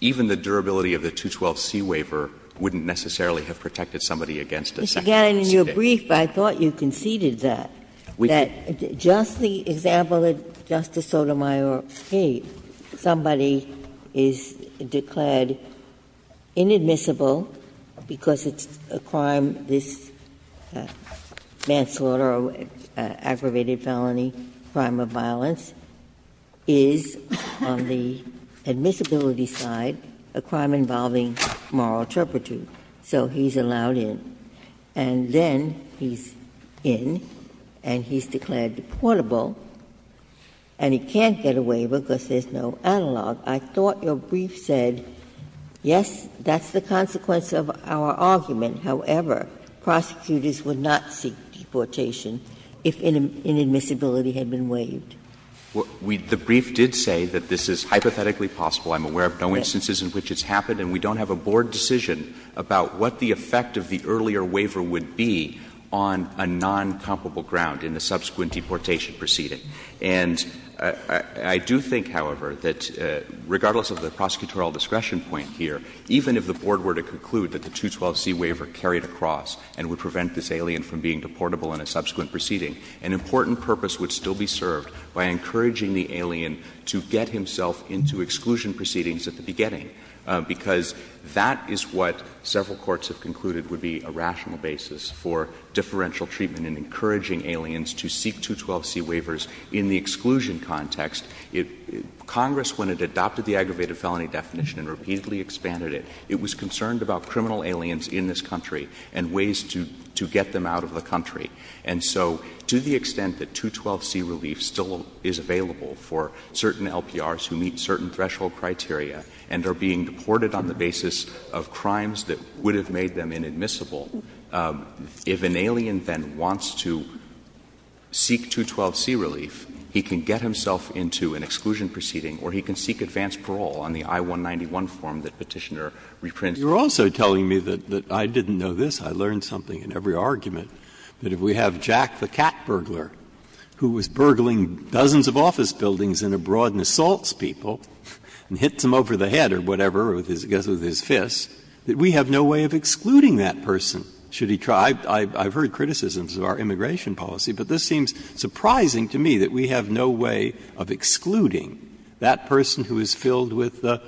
even the durability of the 212c waiver wouldn't necessarily have protected somebody against a second seat. Ginsburg. In your brief, I thought you conceded that. We did. That just the example that Justice Sotomayor gave, somebody is declared inadmissible because it's a crime, this manslaughter or aggravated felony, crime of violence, is, on the admissibility side, a crime involving moral turpitude. So he's allowed in. And then he's in, and he's declared deportable, and he can't get a waiver because there's no analog. I thought your brief said, yes, that's the consequence of our argument. However, prosecutors would not seek deportation if inadmissibility had been waived. Well, the brief did say that this is hypothetically possible. I'm aware of no instances in which it's happened, and we don't have a board decision about what the effect of the earlier waiver would be on a non-comparable ground in the subsequent deportation proceeding. And I do think, however, that regardless of the prosecutorial discretion point here, even if the board were to conclude that the 212c waiver carried across and would prevent this alien from being deportable in a subsequent proceeding, an important purpose would still be served by encouraging the alien to get himself into exclusion proceedings at the beginning, because that is what several courts have concluded would be a rational basis for differential treatment in encouraging aliens to seek 212c waivers in the exclusion context. Congress, when it adopted the aggravated felony definition and repeatedly expanded it, it was concerned about criminal aliens in this country and ways to get them out of the country. And so to the extent that 212c relief still is available for certain LPRs who meet certain threshold criteria and are being deported on the basis of crimes that would have made them inadmissible, if an alien then wants to seek 212c relief, he can get himself into an exclusion proceeding, or he can seek advanced parole on the I-191 form that Petitioner reprints. You're also telling me that I didn't know this. I learned something in every argument, that if we have Jack the cat burglar who was burgling dozens of office buildings and abroad and assaults people and hits them over the head or whatever with his fist, that we have no way of excluding that person should he try. I've heard criticisms of our immigration policy, but this seems surprising to me, that we have no way of excluding that person who is filled with a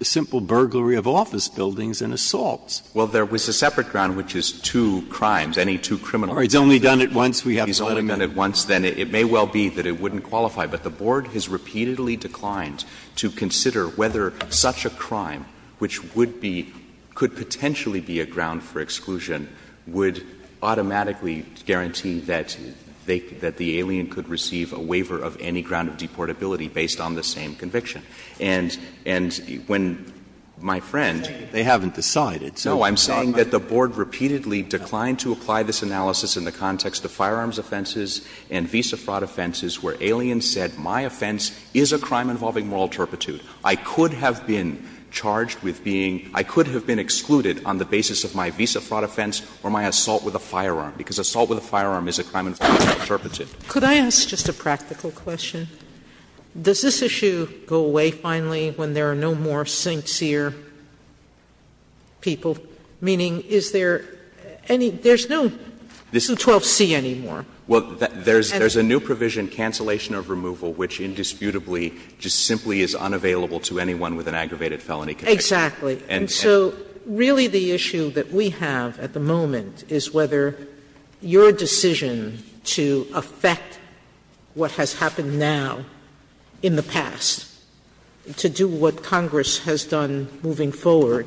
simple burglary of office buildings and assaults. Well, there was a separate ground, which is two crimes, any two criminal cases. It's only done at once. We have to automate. It's only done at once. Then it may well be that it wouldn't qualify. But the Board has repeatedly declined to consider whether such a crime, which would be — could potentially be a ground for exclusion, would automatically guarantee that they — that the alien could receive a waiver of any ground of deportability based on the same conviction. And when my friend — They haven't decided. No, I'm saying that the Board repeatedly declined to apply this analysis in the context of firearms offenses and visa fraud offenses where aliens said, my offense is a crime involving moral turpitude. I could have been charged with being — I could have been excluded on the basis of my visa fraud offense or my assault with a firearm, because assault with a firearm is a crime involving moral turpitude. Could I ask just a practical question? Does this issue go away finally when there are no more sincere people? Meaning, is there any — there's no 12C anymore. Well, there's a new provision, cancellation of removal, which indisputably just simply is unavailable to anyone with an aggravated felony conviction. Exactly. And so really the issue that we have at the moment is whether your decision to affect what has happened now in the past, to do what Congress has done moving forward,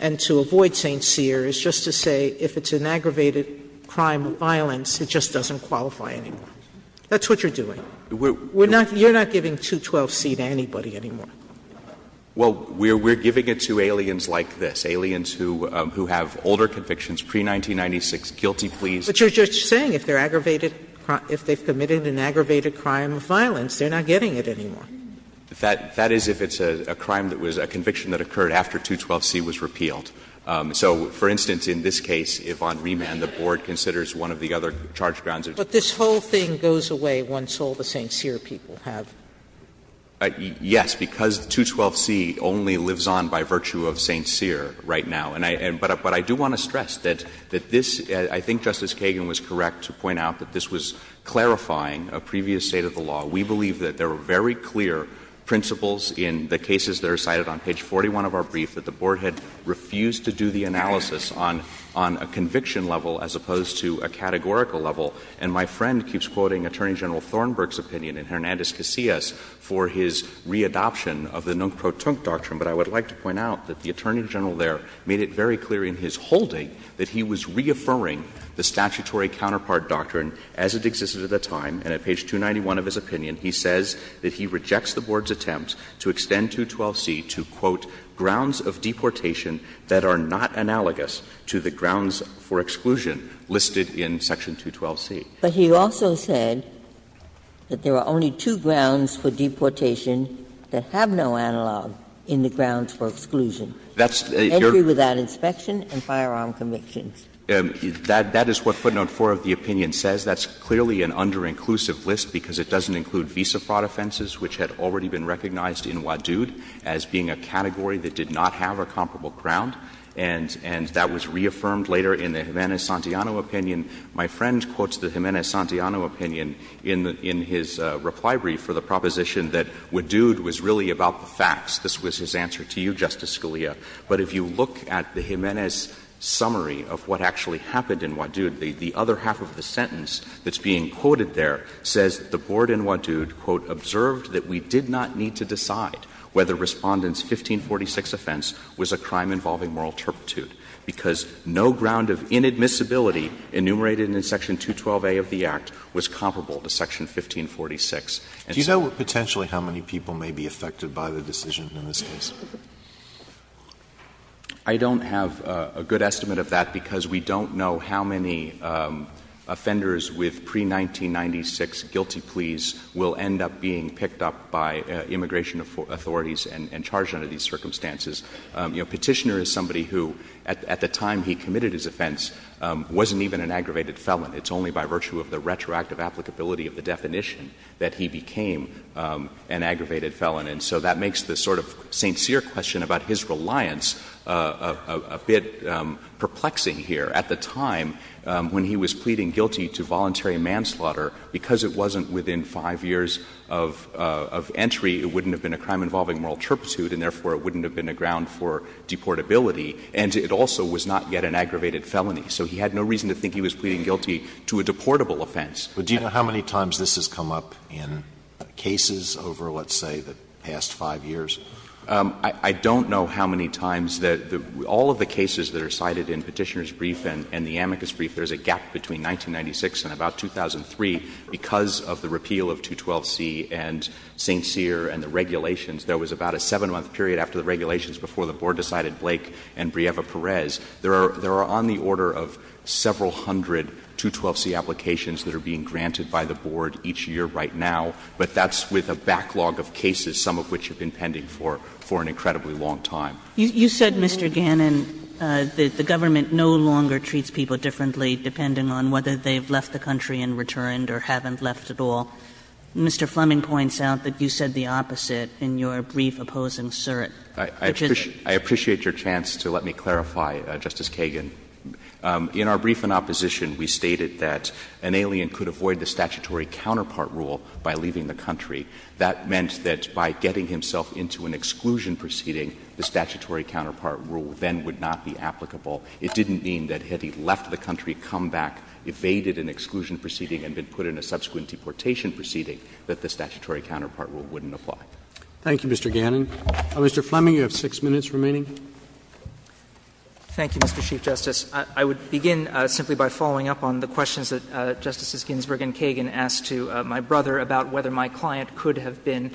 and to avoid St. Cyr, is just to say if it's an aggravated crime of violence, it just doesn't qualify anymore. That's what you're doing. We're not — you're not giving 212C to anybody anymore. Well, we're — we're giving it to aliens like this, aliens who — who have older convictions, pre-1996, guilty pleas. But you're just saying if they're aggravated — if they've committed an aggravated crime of violence, they're not getting it anymore. That — that is if it's a crime that was — a conviction that occurred after 212C was repealed. So, for instance, in this case, if on remand the Board considers one of the other charged grounds of — But this whole thing goes away once all the St. Cyr people have — Yes, because 212C only lives on by virtue of St. Cyr right now. And I — but I do want to stress that — that this — I think Justice Kagan was correct to point out that this was clarifying a previous state of the law. We believe that there were very clear principles in the cases that are cited on page 41 of our brief that the Board had refused to do the analysis on — on a conviction level as opposed to a categorical level. And my friend keeps quoting Attorney General Thornburg's opinion and Hernandez-Casillas for his re-adoption of the nunc pro tunc doctrine. But I would like to point out that the Attorney General there made it very clear in his holding that he was reaffirming the statutory counterpart doctrine as it existed at the time. And at page 291 of his opinion, he says that he rejects the Board's attempt to extend 212C to, quote, grounds of deportation that are not analogous to the grounds for exclusion listed in section 212C. But he also said that there are only two grounds for deportation that have no analog in the grounds for exclusion, entry without inspection and firearm convictions. That is what footnote 4 of the opinion says. That's clearly an under-inclusive list because it doesn't include visa fraud offenses, which had already been recognized in Wadood as being a category that did not have a comparable ground. And that was reaffirmed later in the Jimenez-Santillano opinion. My friend quotes the Jimenez-Santillano opinion in his reply brief for the proposition that Wadood was really about the facts. This was his answer to you, Justice Scalia. But if you look at the Jimenez summary of what actually happened in Wadood, the other half of the sentence that's being quoted there says the Board in Wadood, quote, observed that we did not need to decide whether Respondent's 1546 offense was a crime involving moral turpitude because no ground of inadmissibility enumerated in section 212A of the Act was comparable to section 1546. And so the Board in Wadood, quote, observed that we did not need to decide whether Respondent's 1546 offense was a crime involving moral turpitude because no ground of inadmissibility enumerated in section 212A of the Act was comparable to section 1546. of inadmissibility enumerated in section 212A of the Act was comparable to section 1546. Alito, I don't have a good estimate of that because we don't know how many offenders with pre-1996 guilty pleas will end up being picked up by immigration authorities and charged under these circumstances. You know, Petitioner is somebody who at the time he committed his offense wasn't even an aggravated felon. It's only by virtue of the retroactive applicability of the definition that he became an aggravated felon. And so that makes the sort of sincere question about his reliance a bit perplexing here. At the time when he was pleading guilty to voluntary manslaughter, because it wasn't within five years of entry, it wouldn't have been a crime involving moral turpitude and therefore it wouldn't have been a ground for deportability. And it also was not yet an aggravated felony. So he had no reason to think he was pleading guilty. To a deportable offense. Alito, do you know how many times this has come up in cases over, let's say, the past five years? I don't know how many times. All of the cases that are cited in Petitioner's brief and the amicus brief, there is a gap between 1996 and about 2003 because of the repeal of 212C and St. Cyr and the regulations. There was about a seven-month period after the regulations before the Board decided Blake and Brieva Perez. There are on the order of several hundred 212C applications that are being granted by the Board each year right now, but that's with a backlog of cases, some of which have been pending for an incredibly long time. You said, Mr. Gannon, that the government no longer treats people differently depending on whether they have left the country and returned or haven't left at all. Mr. Fleming points out that you said the opposite in your brief opposing Surratt. I appreciate your chance to let me clarify, Justice Kagan. In our brief in opposition, we stated that an alien could avoid the statutory counterpart rule by leaving the country. That meant that by getting himself into an exclusion proceeding, the statutory counterpart rule then would not be applicable. It didn't mean that had he left the country, come back, evaded an exclusion proceeding and been put in a subsequent deportation proceeding, that the statutory counterpart rule wouldn't apply. Thank you, Mr. Gannon. Mr. Fleming, you have six minutes remaining. Thank you, Mr. Chief Justice. I would begin simply by following up on the questions that Justices Ginsburg and Kagan asked to my brother about whether my client could have been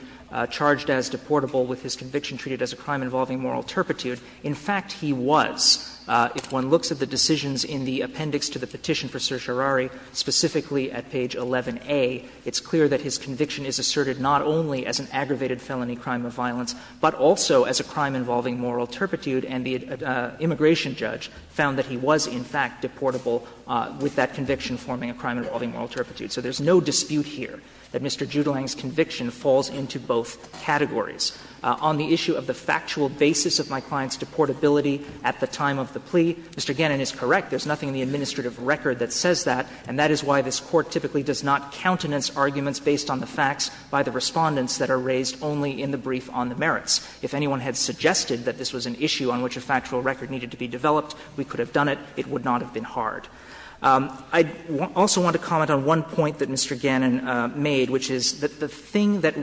charged as deportable with his conviction treated as a crime involving moral turpitude. In fact, he was. If one looks at the decisions in the appendix to the petition for certiorari, specifically at page 11A, it's clear that his conviction is asserted not only as an assertion, but also as a crime involving moral turpitude, and the immigration judge found that he was, in fact, deportable with that conviction forming a crime involving moral turpitude. So there's no dispute here that Mr. Judelang's conviction falls into both categories. On the issue of the factual basis of my client's deportability at the time of the plea, Mr. Gannon is correct. There's nothing in the administrative record that says that, and that is why this Court typically does not countenance arguments based on the facts by the Respondents that are raised only in the brief on the merits. If anyone had suggested that this was an issue on which a factual record needed to be developed, we could have done it. It would not have been hard. I also want to comment on one point that Mr. Gannon made, which is that the thing that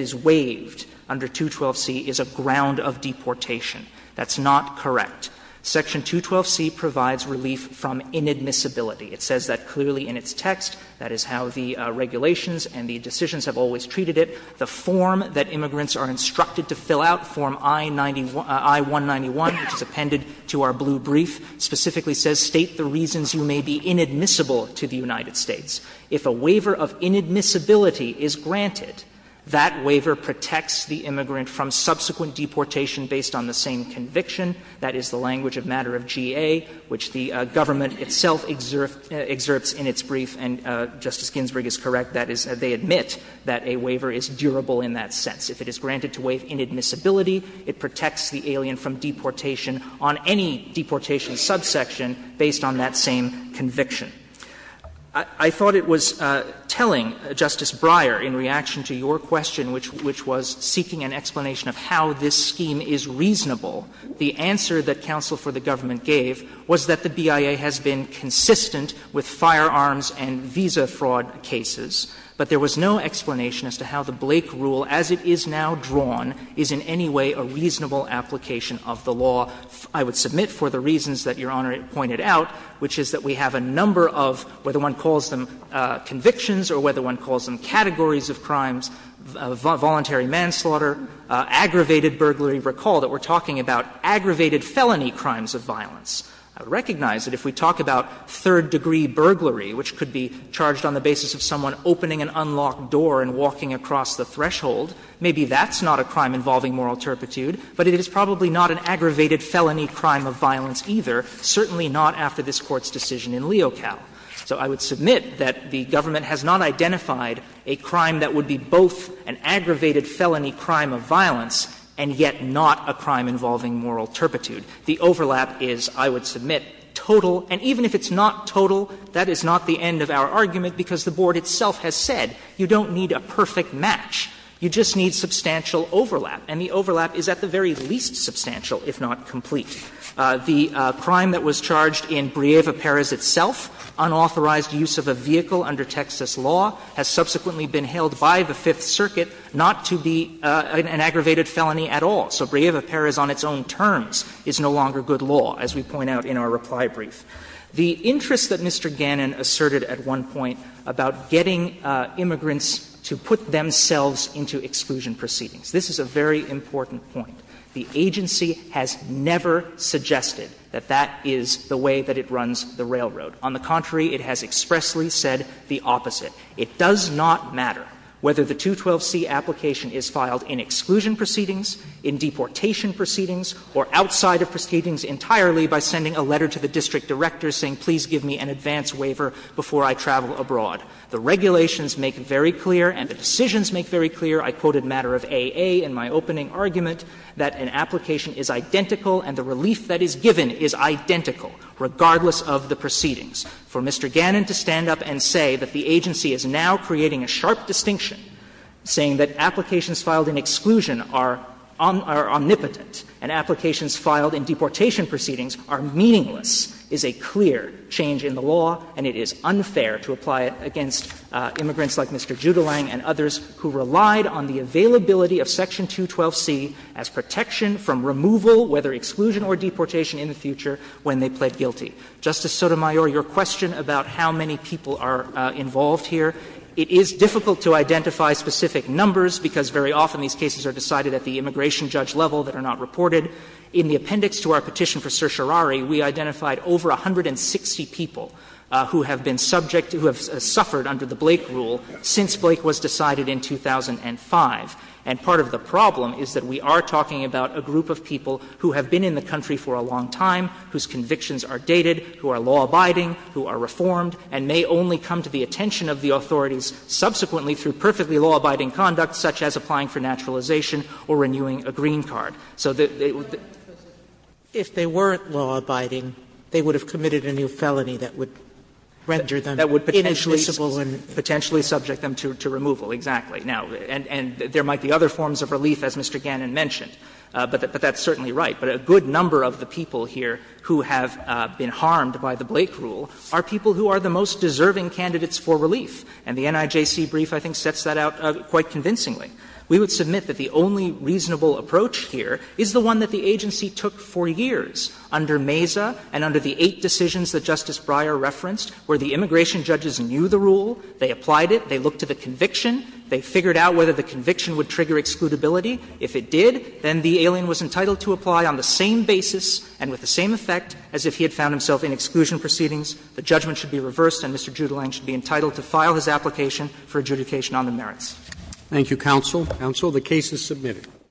is waived under 212c is a ground of deportation. That's not correct. Section 212c provides relief from inadmissibility. It says that clearly in its text. That is how the regulations and the decisions have always treated it. The form that immigrants are instructed to fill out, Form I-191, which is appended to our blue brief, specifically says, State the reasons you may be inadmissible to the United States. If a waiver of inadmissibility is granted, that waiver protects the immigrant from subsequent deportation based on the same conviction. That is the language of matter of GA, which the government itself exerts in its brief, and Justice Ginsburg is correct. That is, they admit that a waiver is durable in that sense. If it is granted to waive inadmissibility, it protects the alien from deportation on any deportation subsection based on that same conviction. I thought it was telling, Justice Breyer, in reaction to your question, which was seeking an explanation of how this scheme is reasonable, the answer that counsel for the government gave was that the BIA has been consistent with firearms and visa fraud cases. But there was no explanation as to how the Blake rule, as it is now drawn, is in any way a reasonable application of the law. I would submit for the reasons that Your Honor pointed out, which is that we have a number of, whether one calls them convictions or whether one calls them categories of crimes, voluntary manslaughter, aggravated burglary. Recall that we are talking about aggravated felony crimes of violence. I would recognize that if we talk about third-degree burglary, which could be charged on the basis of someone opening an unlocked door and walking across the threshold, maybe that's not a crime involving moral turpitude, but it is probably not an aggravated felony crime of violence either, certainly not after this Court's decision in Leocal. So I would submit that the government has not identified a crime that would be both an aggravated felony crime of violence and yet not a crime involving moral turpitude. The overlap is, I would submit, total, and even if it's not total, that is not the argument, because the Board itself has said you don't need a perfect match, you just need substantial overlap. And the overlap is at the very least substantial, if not complete. The crime that was charged in Brieva Pérez itself, unauthorized use of a vehicle under Texas law, has subsequently been held by the Fifth Circuit not to be an aggravated felony at all. So Brieva Pérez on its own terms is no longer good law, as we point out in our reply brief. The interest that Mr. Gannon asserted at one point about getting immigrants to put themselves into exclusion proceedings, this is a very important point. The agency has never suggested that that is the way that it runs the railroad. On the contrary, it has expressly said the opposite. It does not matter whether the 212c application is filed in exclusion proceedings, in deportation proceedings, or outside of proceedings entirely by sending a letter to the district director saying, please give me an advance waiver before I travel abroad. The regulations make very clear and the decisions make very clear, I quoted Matter of A.A. in my opening argument, that an application is identical and the relief that is given is identical, regardless of the proceedings. For Mr. Gannon to stand up and say that the agency is now creating a sharp distinction, saying that applications filed in exclusion are omnipotent and applications filed in deportation proceedings are meaningless, is a clear change in the law and it is unfair to apply it against immigrants like Mr. Judelang and others who relied on the availability of Section 212c as protection from removal, whether exclusion or deportation, in the future when they pled guilty. Justice Sotomayor, your question about how many people are involved here, it is difficult to identify specific numbers because very often these cases are decided at the immigration judge level that are not reported. In the appendix to our petition for certiorari, we identified over 160 people who have been subject, who have suffered under the Blake rule since Blake was decided in 2005. And part of the problem is that we are talking about a group of people who have been in the country for a long time, whose convictions are dated, who are law-abiding, who are reformed, and may only come to the attention of the authorities subsequently through perfectly law-abiding conduct, such as applying for naturalization or renewing a green card. So they would be Sotomayor, if they weren't law-abiding, they would have committed a new felony that would render them ineligible. That would potentially subject them to removal, exactly. Now, and there might be other forms of relief, as Mr. Gannon mentioned, but that's certainly right. But a good number of the people here who have been harmed by the Blake rule are people who are the most deserving candidates for relief. And the NIJC brief, I think, sets that out quite convincingly. We would submit that the only reasonable approach here is the one that the agency took for years under Mesa and under the eight decisions that Justice Breyer referenced, where the immigration judges knew the rule, they applied it, they looked at the conviction, they figured out whether the conviction would trigger excludability. If it did, then the alien was entitled to apply on the same basis and with the same effect as if he had found himself in exclusion proceedings. The judgment should be reversed and Mr. Judelang should be entitled to file his application for adjudication on the merits. Roberts.